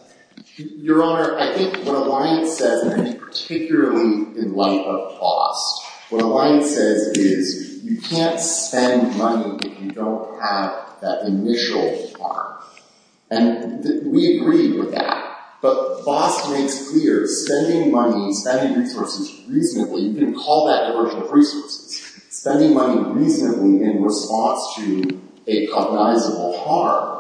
Your Honor, I think what Alliance says, and I think particularly in light of BOST, what Alliance says is you can't spend money if you don't have that initial harm. And we agree with that. But BOST makes clear, spending money, spending resources reasonably, you can call that diversion of resources, spending money reasonably in response to a cognizable harm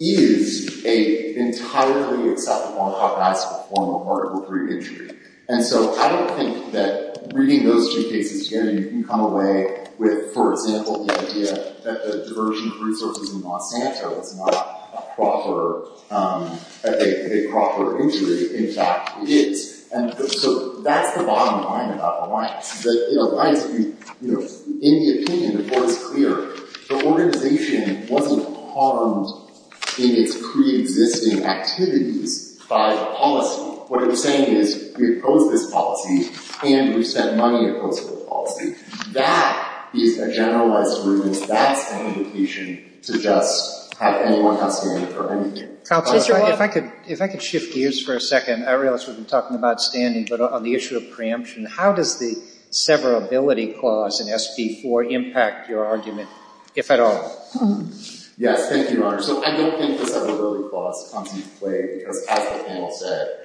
is an entirely acceptable and cognizable form of Article III injury. And so I don't think that reading those two cases together, you can come away with, for example, the idea that the diversion of resources in Los Santos is not a proper injury. In fact, it is. And so that's the bottom line about Alliance, that in Alliance, in the opinion, before it's clear, the organization wasn't harmed in its preexisting activities by policy. What it was saying is we oppose this policy, and we spent money opposing the policy. That is a generalized rule. That's an indication to just have anyone have standing for anything. Counsel, if I could shift gears for a second. I realize we've been talking about standing, but on the issue of preemption, how does the severability clause in SB 4 impact your argument, if at all? Yes, thank you, Your Honor. So I don't think the severability clause comes into play, because as the panel said,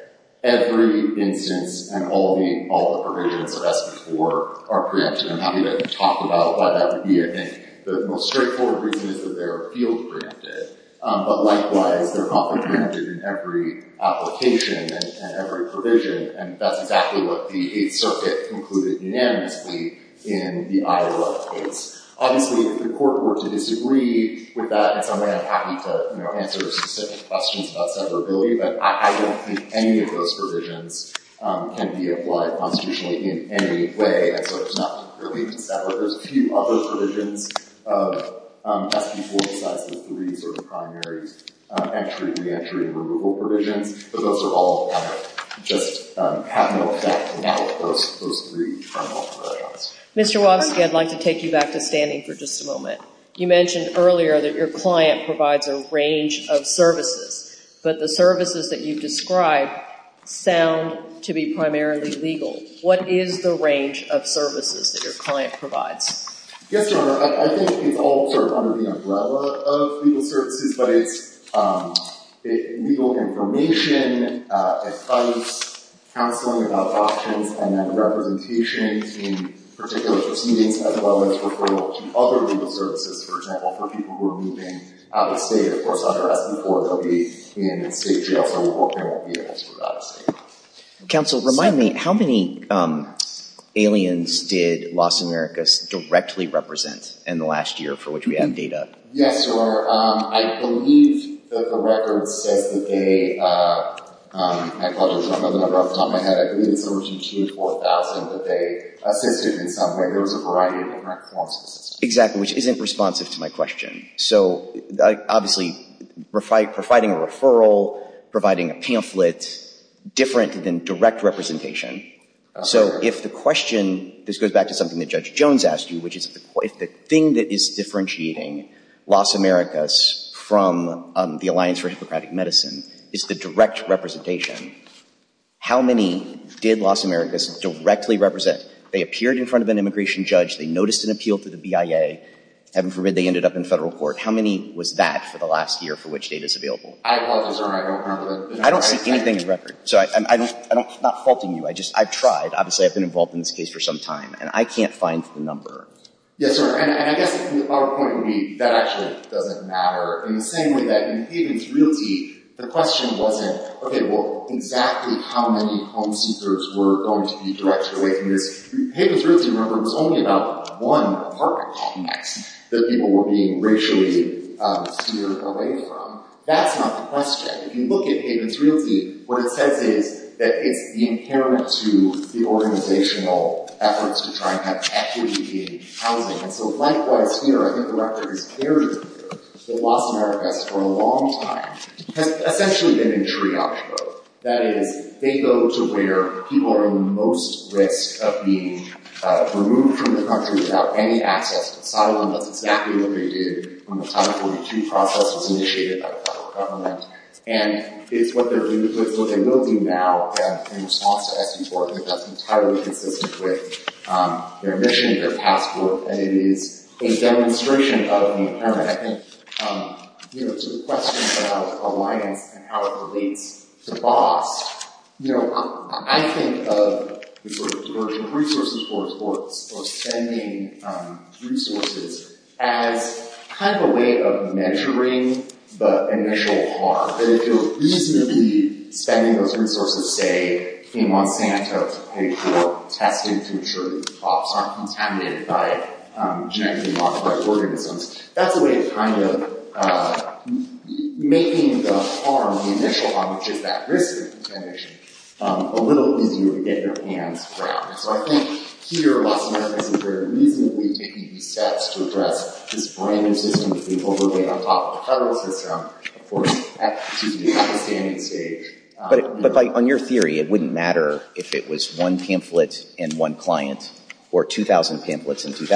every instance and all the provisions of SB 4 are preempted. I'm happy to talk about why that would be. I think the most straightforward reason is that they are field preempted. But likewise, they're not preempted in every application and every provision. And that's exactly what the Eighth Circuit concluded unanimously in the Iowa case. Obviously, if the Court were to disagree with that in some way, I'm happy to answer specific questions about severability. But I don't think any of those provisions can be applied constitutionally in any way. And so it's not really to sever. There's a few other provisions of SB 4 besides the three sort of primary entry, reentry, and removal provisions. But those are all kind of just have no effect on those three final provisions. Mr. Wobsky, I'd like to take you back to standing for just a moment. You mentioned earlier that your client provides a range of services. But the services that you've described sound to be primarily legal. What is the range of services that your client provides? Yes, Your Honor. I think it's all sort of under the umbrella of legal services. But it's legal information, advice, counseling about options, and then representation in particular proceedings, as well as referral to other legal services. For example, for people who are moving out of state, of course under SB 4, they'll be in state jail. So they won't be transferred out of state. Counsel, remind me, how many aliens did Los Americas directly represent in the last year for which we have data? Yes, Your Honor. I believe that the record says that they, I apologize for the number off the top of my head, I believe it's somewhere between 2,000 and 4,000 that they assisted in some way. There was a variety of different forms of assistance. Exactly, Your Honor, which isn't responsive to my question. So obviously providing a referral, providing a pamphlet, different than direct representation. So if the question, this goes back to something that Judge Jones asked you, which is if the thing that is differentiating Los Americas from the Alliance for Hippocratic Medicine is the direct representation, how many did Los Americas directly represent? They appeared in front of an immigration judge. They noticed an appeal to the BIA. Heaven forbid they ended up in federal court. How many was that for the last year for which data is available? I apologize, Your Honor, I don't remember the number. I don't see anything in record. I'm not faulting you. I've tried. Obviously, I've been involved in this case for some time. And I can't find the number. Yes, Your Honor. And I guess our point would be that actually doesn't matter. In the same way that in Haven's Realty, the question wasn't, okay, well, exactly how many home seekers were going to be directed away from this. Haven's Realty, remember, was only about one apartment complex that people were being racially seared away from. That's not the question. If you look at Haven's Realty, what it says is that it's inherent to the organizational efforts to try and have equity in housing. And so likewise here, I think the record is clear that Los Americas for a long time has essentially been in triage mode. That is, they go to where people are in the most risk of being removed from the country without any access to asylum. That's exactly what they did when the Title 42 process was initiated by the federal government. And it's what they're dealing with, what they will be now in response to SB-4. I think that's entirely consistent with their mission and their past work. And it is a demonstration of the inherent, I think, you know, to the question about alliance and how it relates to BOS. You know, I think of the sort of diversion of resources or spending resources as kind of a way of measuring the initial harm. That if you're reasonably spending those resources, say, in Monsanto to pay for testing to ensure that crops aren't contaminated by genetically modified organisms, that's a way of kind of making the harm, the initial harm, which is that risk of contamination, a little easier to get your hands around. So I think here, Los Americas is very reasonably taking these steps to address this brand-new system that we've overlaid on top of the federal system at the standing stage. But on your theory, it wouldn't matter if it was one pamphlet and one client or 2,000 square feet,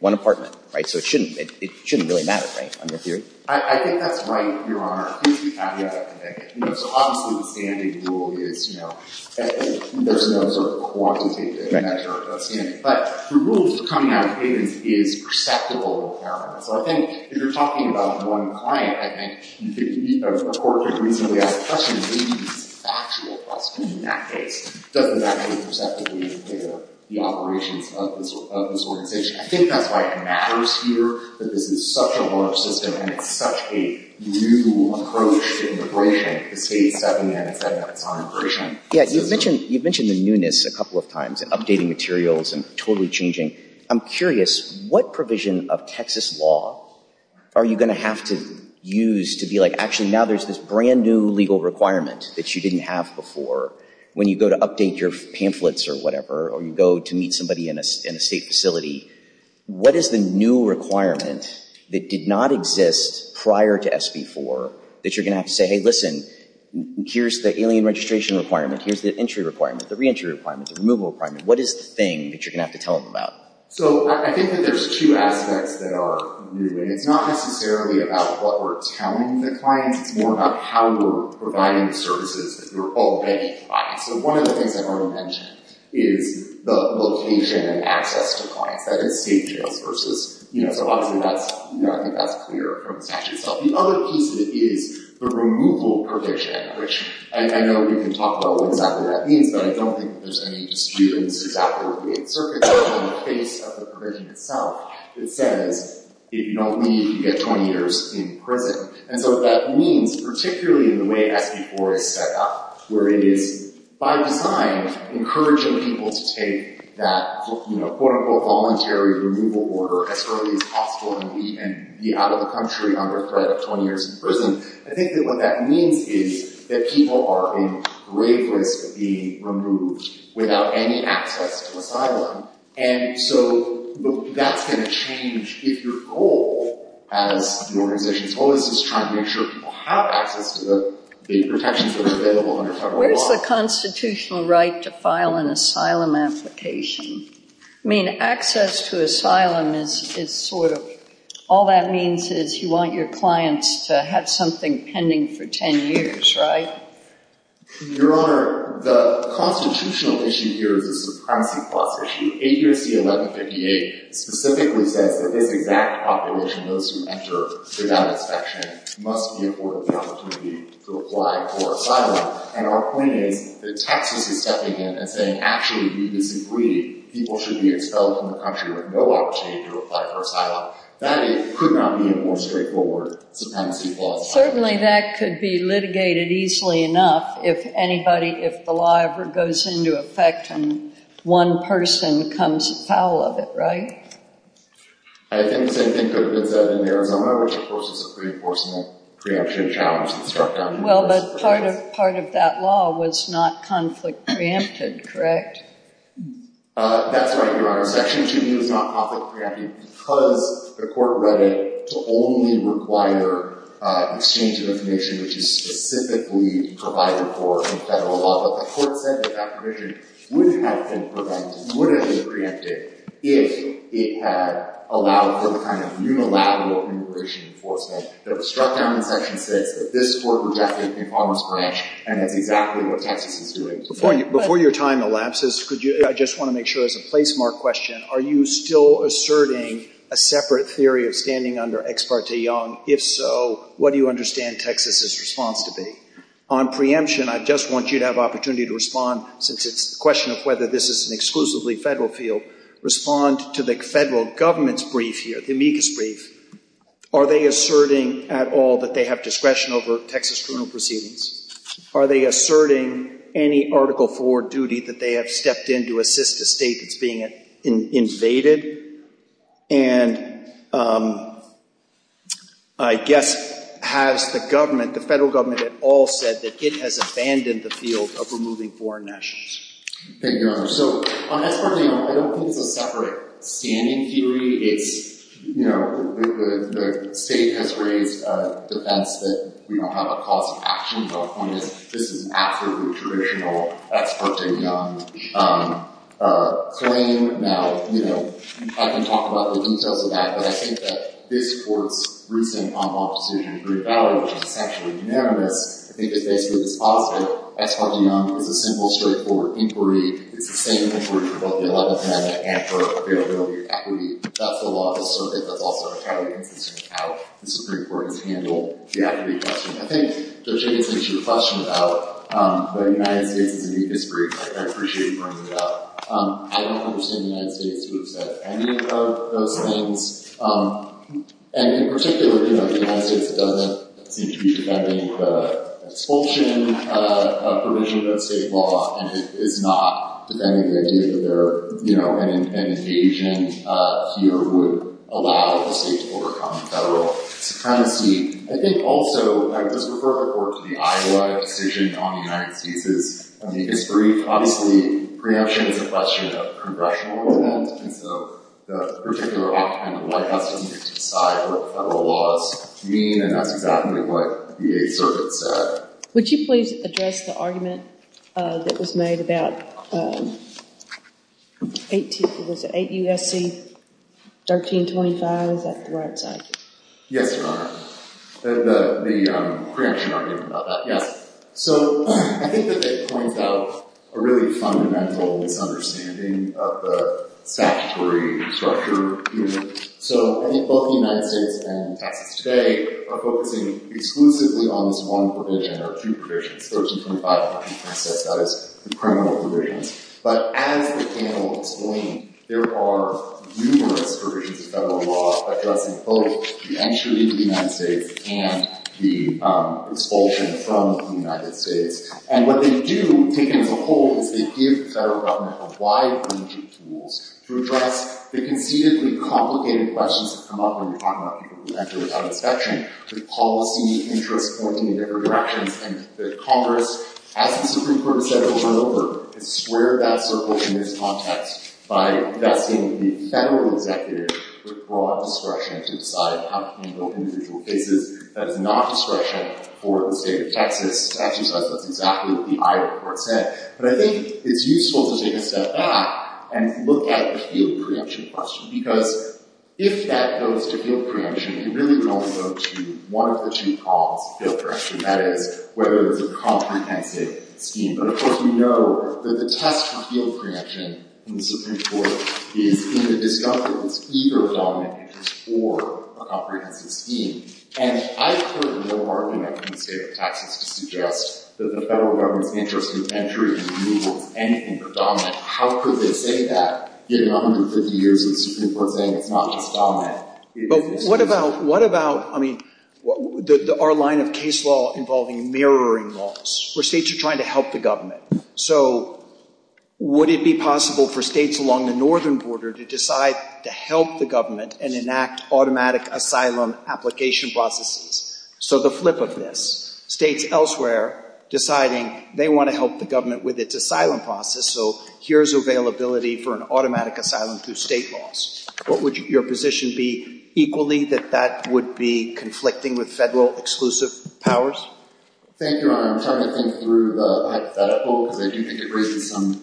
one apartment, right? So it shouldn't really matter, right, on your theory? I think that's right, Your Honor. I think the caveat, I think, you know, so obviously the standing rule is, you know, there's no sort of quantitative measure of standing. But the rules that are coming out of Hayden's is perceptible impairment. So I think if you're talking about one client, I think the Court could reasonably ask the question, maybe it's factual question in that case. Does the fact that it's perceptible impair the operations of this organization? I think that's why it matters here, that this is such a large system and it's such a new approach to immigration, the state's seven minutes on immigration. Yeah, you've mentioned the newness a couple of times, updating materials and totally changing. I'm curious, what provision of Texas law are you going to have to use to be like, actually now there's this brand-new legal requirement that you didn't have before when you go to update your pamphlets or whatever, or you go to meet somebody in a state facility. What is the new requirement that did not exist prior to SB 4 that you're going to have to say, hey, listen, here's the alien registration requirement, here's the entry requirement, the reentry requirement, the removal requirement. What is the thing that you're going to have to tell them about? So I think that there's two aspects that are new. And it's not necessarily about what we're telling the clients. It's more about how we're providing the services that you're all getting. So one of the things I've already mentioned is the location and access to clients, that is state jails versus, you know, so obviously that's, you know, I think that's clear from the statute itself. The other piece of it is the removal provision, which I know we can talk about what exactly that means, but I don't think that there's any dispute in the 6th Act or the Eighth Circuit, but in the case of the provision itself, it says if you don't leave, you get 20 years in prison. And so what that means, particularly in the way SB 4 is set up, where it is by design encouraging people to take that, you know, quote unquote voluntary removal order as early as possible and be out of the country under threat of 20 years in prison, I think that what that means is that people are in grave risk of being removed without any access to asylum. And so that's going to change if your organization is trying to make sure people have access to the protections that are available under federal law. Where's the constitutional right to file an asylum application? I mean, access to asylum is sort of, all that means is you want your clients to have something pending for 10 years, right? Your Honor, the constitutional issue here is a supremacy clause issue. 8 U.S.C. 1158 specifically says that this exact population, those who enter without inspection, must be afforded the opportunity to apply for asylum. And our point is that Texas is stepping in and saying, actually, we disagree. People should be expelled from the country with no opportunity to apply for asylum. That could not be a more straightforward supremacy clause. Certainly that could be litigated easily enough if anybody, if the law ever goes into effect and one person comes to power of it, right? I think the same thing could have been said in Arizona, which, of course, is a pre-enforcement preemption challenge that's struck down. Well, but part of that law was not conflict preempted, correct? That's right, Your Honor. Section 2B was not conflict preempted because the court read it to only require exchange of information which is specifically provided for in federal law. But the court said that that provision would have been preempted if it had allowed for the kind of unilateral immigration enforcement that was struck down in Section 6, that this court rejected in Palmer's Branch, and that's exactly what Texas is doing. Before your time elapses, I just want to make sure as a placemark question, are you still asserting a separate theory of standing under Ex parte Young? If so, what do you understand in Texas's response to be? On preemption, I just want you to have opportunity to respond, since it's a question of whether this is an exclusively federal field, respond to the federal government's brief here, the amicus brief. Are they asserting at all that they have discretion over Texas criminal proceedings? Are they asserting any Article IV duty that they have stepped in to assist a state that's being invaded? And I guess, has the government, the federal government at all said that it has abandoned the field of removing foreign nationals? Thank you, Your Honor. So on Ex parte Young, I don't think it's a separate standing theory. It's, you know, the state has raised defense that we don't have a cause of action, but my point is, this is an absolutely traditional Ex parte Young claim. Now, you know, I can talk about the details of that, but I think that this Court's recent on-law decision in Green Valley, which is essentially unanimous, I think is basically dispositive. Ex parte Young is a simple, straightforward inquiry. It's the same inquiry for both the Eleventh Amendment and for availability of equity. That's the law of the circuit. That's also kind of consistent with how the Supreme Court has handled the equity question. I think, Judge Jacobson, it's your question about whether the United States is in the history. I appreciate you bringing it up. I don't understand the United States to have said any of those things, and in particular, you know, the United States doesn't seem to be defending the expulsion provision of that state law, and it is not defending the idea that there, you know, an invasion here would allow the state to overcome federal supremacy. I think, also, I would just refer the Court to the Iowa decision on the United States' history. Obviously, preemption is a question of congressional event, and so the particular argument of the White House needed to decide what federal laws mean, and that's exactly what the Eighth Circuit said. Would you please address the argument that was made about 8 U.S.C. 1325? Is that the right side? Yes, Your Honor. The preemption argument about that, yes. So I think that it points out a really fundamental misunderstanding of the statutory structure here. So I think both the United States and Texas today are focusing exclusively on this one provision or two provisions, 1325 in Texas, that is, the criminal provisions. But as the panel explained, there are numerous provisions of federal law addressing both the entry into the United States and the expulsion from the United States, and what they do, taken as a whole, is they give the federal government a wide range of tools to address the conceivably complicated questions that come up when you're talking about people who enter without inspection, with policy interests pointing in different directions. And the Congress, as the Supreme Court has said over and over, has squared that circle in this context by vesting the federal executive with broad discretion to decide how to handle individual cases. That is not discretion for the state of Texas. Actually, that's exactly what the Iowa court said. But I think it's useful to take a step back and look at the field preemption question, because if that goes to field preemption, it really only goes to one of the two problems of field preemption, that is, whether there's a comprehensive scheme. But of course, we know that the test for field preemption in the Supreme Court is in the discovery of its either dominant interest or a comprehensive scheme. And I've heard no argument in the state of Texas to suggest that the federal government's interest in entry and removal is anything but dominant. How could they say that, given 150 years of the Supreme Court saying it's not just dominant? But what about, I mean, our line of case law involving mirroring laws, where states are trying to help the government? So would it be possible for states along the northern border to decide to help the government and enact automatic asylum application processes? So the flip of this, states elsewhere deciding they want to help the government with its asylum process, so here's availability for an automatic asylum through state laws. What would your position be, equally, that that would be conflicting with federal exclusive powers? Thank you, Your Honor. I'm trying to think through the hypothetical, because I do think it raises some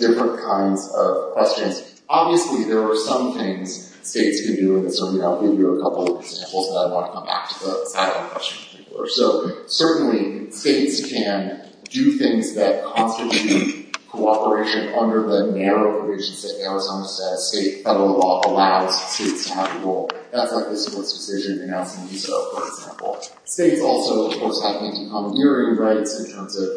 different kinds of questions. Obviously, there are some things states can do, and so I'll give you a couple of examples, but I want to come back to the asylum question before. So certainly, states can do things that constitute cooperation under the narrow provisions that Arizona's state federal law allows states to have a role. That's like the Supreme Court's decision announcing MISO, for example. States also, of course, have anti-commandeering rights in terms of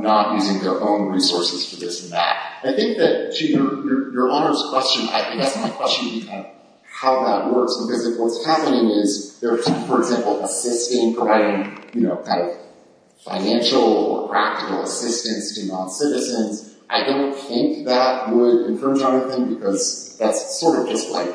not using their own resources for this and that. I think that, Chief, Your Honor's question, I think that's my question of how that works, because if what's happening is they're, for example, assisting, providing financial or practical assistance to non-citizens, I don't think that would concern Jonathan, because that's sort of just like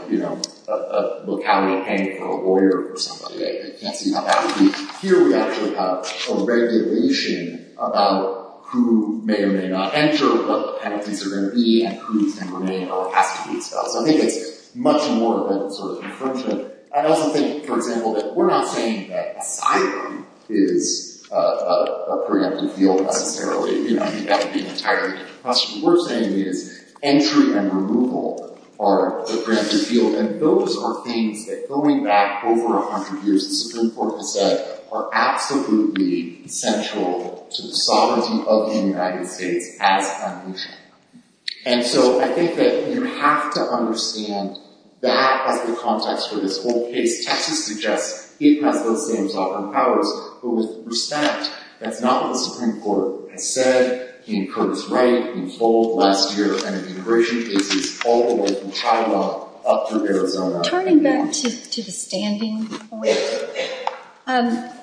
locality paying for a lawyer for somebody. I can't see how that Here, we actually have a regulation about who may or may not enter, what the penalties are going to be, and who's going to remain or has to be expelled. So I think it's much more of that sort of confrontation. I also think, for example, that we're not saying that asylum is a preemptive field, necessarily. I think that would be an entirely different question. What we're saying is entry and removal are the preemptive field, and those are things that, going back over a hundred years, the Supreme Court has said are absolutely essential to the sovereignty of the United States as a nation. And so I think that you have to understand that as the context for this whole case. Texas suggests it has those same sovereign powers, but with respect, that's not what the Supreme Court has said. He incurred his right in full last year, and immigration cases all the way from China up through Arizona. Turning back to the standing argument,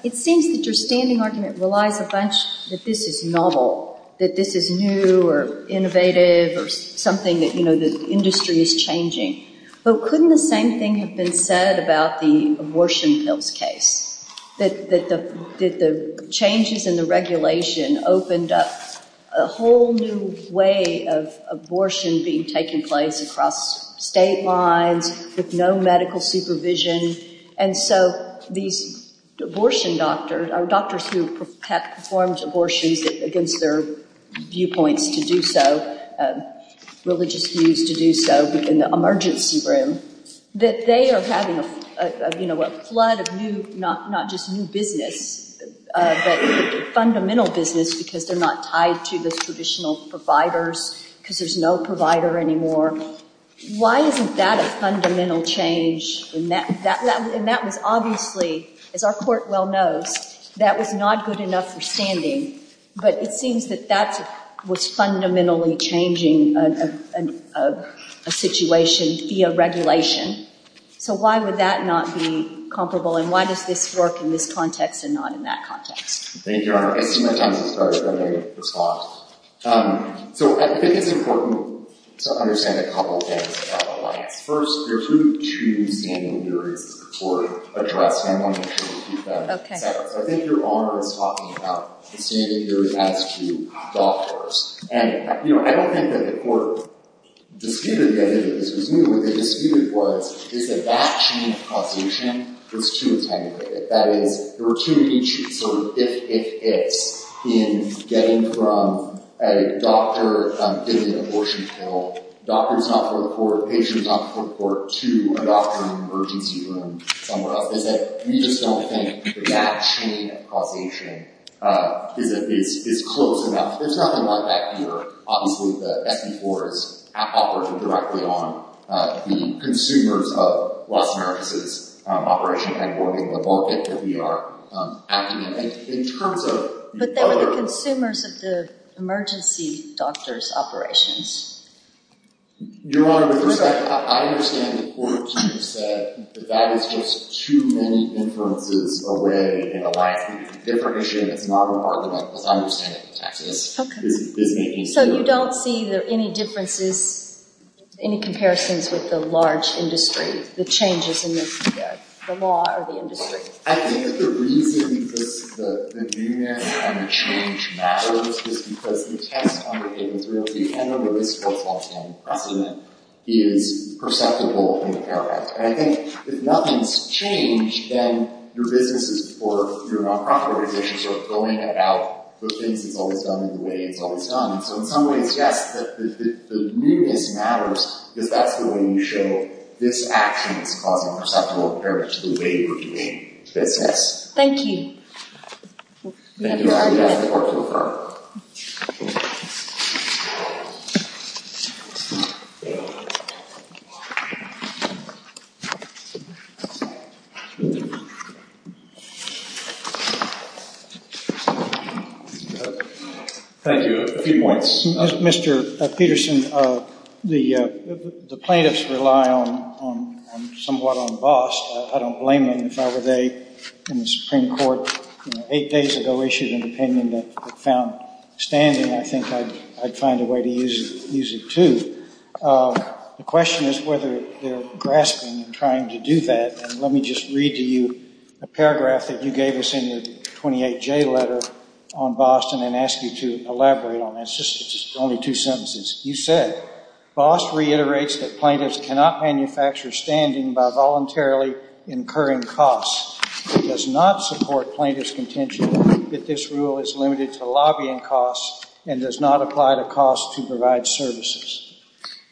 it seems that your standing argument relies a bunch that this is novel, that this is new or innovative or something that, you know, the industry is changing. But couldn't the same thing have been said about the abortion pills case, that the changes in the regulation opened up a whole new way of abortion being taking place across state lines, with no medical supervision. And so these abortion doctors, doctors who have performed abortions against their viewpoints to do so, religious views to do so in the emergency room, that they are having a flood of new, not just new business, but fundamental business because they're not tied to the traditional providers because there's no provider anymore. Why isn't that a fundamental change? And that was obviously, as our Court well knows, that was not good enough for standing. But it seems that that was fundamentally changing a situation via regulation. So why would that not be comparable and why does this work in this context and not in that context? Thank you, Your Honor. I see my time has started. Let me respond. So I think it's important to understand a couple of things about all of this. First, there's really two standing theories that the Court addressed, and I want to make sure we keep that set up. So I think Your Honor is talking about the standing theory as to doctors. And, you know, I don't think that the Court disputed the idea that this was new. What they disputed was, is that that chain of causation was too intangible. That is, there were too many sort of if, if, ifs in getting from a doctor getting an abortion pill, doctors not before the Court, patients not before the Court, to a doctor in an emergency room somewhere else. They said, we just don't think that chain of causation is close enough. There's nothing like that here. Obviously, the SB4 is operating directly on the consumers of Los Angeles' operation headquartering, the market that we are acting in. In terms of... But they were the consumers of the emergency doctors' operations. Your Honor, with respect, I understand the Court's use that that is just too many inferences away in the last week. It's a different issue and it's not a part of what the understanding of taxes is making. So you don't see any differences, any comparisons with the large industry, the changes in the law or the industry? I think that the reason that the agreement on the change matters is because the test on the case was real. The end of the SB4's longstanding precedent is perceptible in the way it's always done. So in some ways, yes, the newness matters because that's the way you show this action is causing perceptible compared to the way you were doing business. Thank you. Thank you, Your Honor. You may have the floor. Thank you. A few points. Mr. Peterson, the plaintiffs rely on somewhat embossed. I don't blame them. If I were they in the Supreme Court eight days ago, issued an opinion that found standing, I think I'd find a way to use it too. The question is whether they're grasping and trying to do that. And let me just read to you a paragraph that you gave us in your 28J letter on Boston and ask you to elaborate on that. It's just only two sentences. You said, Boss reiterates that plaintiffs cannot manufacture standing by voluntarily incurring costs. It does not support plaintiff's contention that this rule is limited to lobbying costs and does not apply to costs to provide services.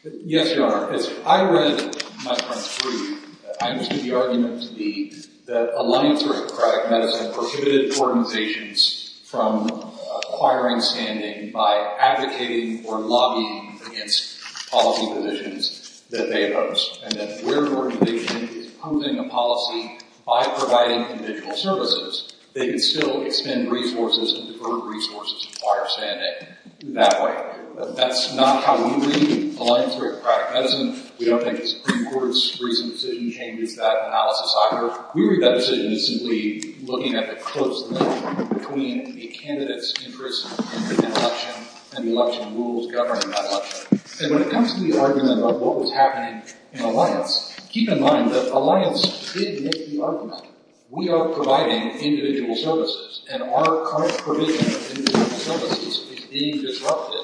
Yes, Your Honor. As I read my friend's brief, I understood the argument to be that Alliance for Democratic Medicine prohibited organizations from acquiring standing by advocating or lobbying against policy positions that they oppose. And that where an organization is promoting a policy by providing individual services, they can still expend resources and divert resources to acquire standing that way. That's not how we read Alliance for Democratic Medicine. We don't think the Supreme Court's recent decision changes that analysis either. We read that decision as simply looking at the close link between a candidate's interest in the election and the election rules governing that election. And when it comes to the argument about what was happening in Alliance, keep in mind that Alliance did make the argument we are providing individual services, and our current provision of individual services is being disrupted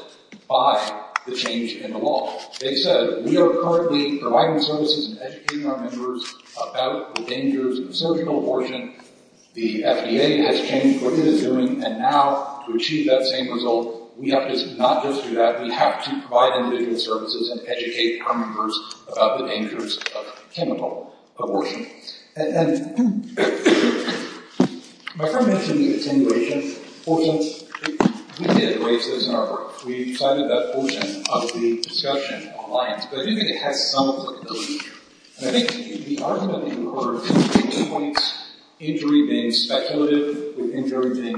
by the change in the law. They said we are currently providing services and educating our members about the dangers of surgical abortion. The FDA has changed what it is doing, and now to achieve that same result, we have to not just do that, we have to provide individual services and educate our members about the dangers of chemical abortion. And my friend mentioned the attenuation portion. We did raise this in our work. We cited that portion of the discussion in Alliance, but I do think it has some applicability. And I think the argument in the court is between two points, injury being speculative with injury being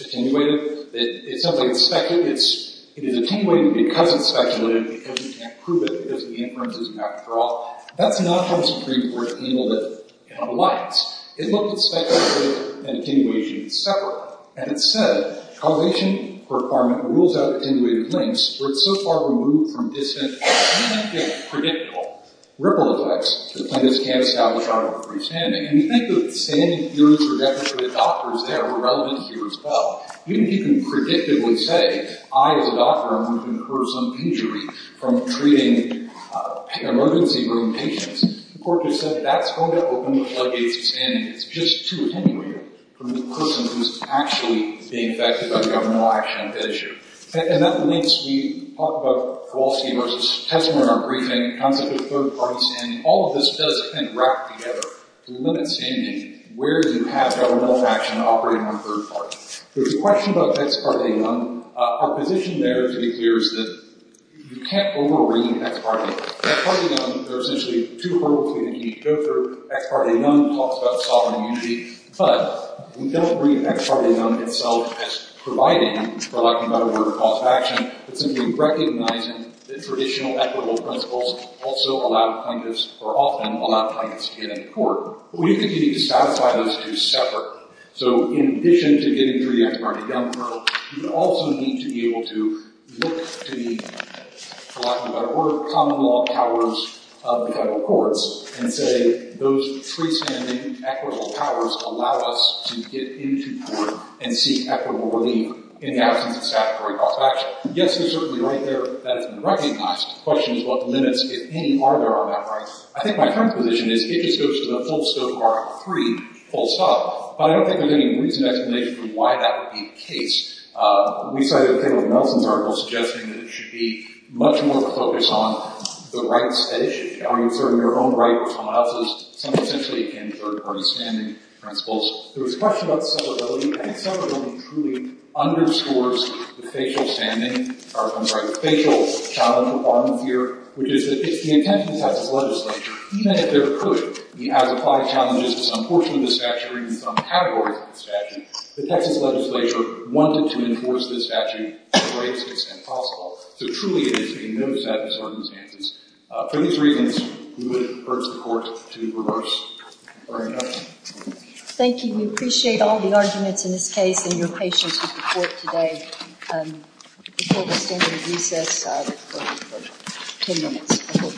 attenuated. It sounds like it's speculative. It is attenuated because it's speculative, because we can't prove it because the inference is not at all. That's not from the Supreme Court in Alliance. It looked at speculative and attenuation separately. And it said, causation requirement rules out attenuated links where it's so far removed from dissonance that it cannot get predictable. Ripple effects, the plaintiffs can't establish out of a free standing. And we think the standing theories are definitely for the doctors that are relevant here as well. Even if you can predictably say, I as a doctor, I'm going to incur some injury from treating emergency room patients, the court just said, that's going to open the floodgates of standing. It's just too attenuated from the person who's actually being affected by the governmental action of that issue. And that links, we talked about Kowalski versus Tesmer in our briefing, the concept of third party standing. All of this does kind of wrap together to limit standing where you have governmental action operating on third party. There's a question about ex parte none. Our position there, to be clear, is that you can't over-bring ex parte. Ex parte none, there are essentially two hurdles we need to go through. Ex parte none talks about sovereign immunity. But we don't bring ex parte none itself as providing for lack of a better word, a cause of action. It's simply recognizing that traditional equitable principles also allow plaintiffs, or often allow plaintiffs to get into court. But we continue to satisfy those two separately. So in addition to getting through the ex parte none hurdle, you also need to be able to look to the lack of a better word, common law powers of the federal courts and say, those freestanding equitable powers allow us to get into court and seek equitable relief in the absence of statutory cause of action. Yes, there's certainly right there that's been recognized. The question is what limits, if any, are there on that right? I think my current position is it just goes to the full scope of Article III, full stop. But I don't think there's any reasonable explanation for why that would be the case. We cited a thing with Nelson's article suggesting that it should be much more focused on the rights at issue. Are you serving your own rights or someone else's? Some essentially in third party standing principles. There was a question about separability. I think separability truly underscores the facial challenge at the bottom here, which is that if the intent of the Texas legislature, even if there could be adequate challenges to some portion of this statute or even some category of this statute, the Texas legislature wanted to enforce this statute to the greatest extent possible. So truly it is a no set of circumstances. For these reasons, we would urge the Court to reverse our induction. Thank you. We appreciate all the arguments in this case and your patience with the Court today. Before we stand for recess, we have 10 minutes before we pick up the next case.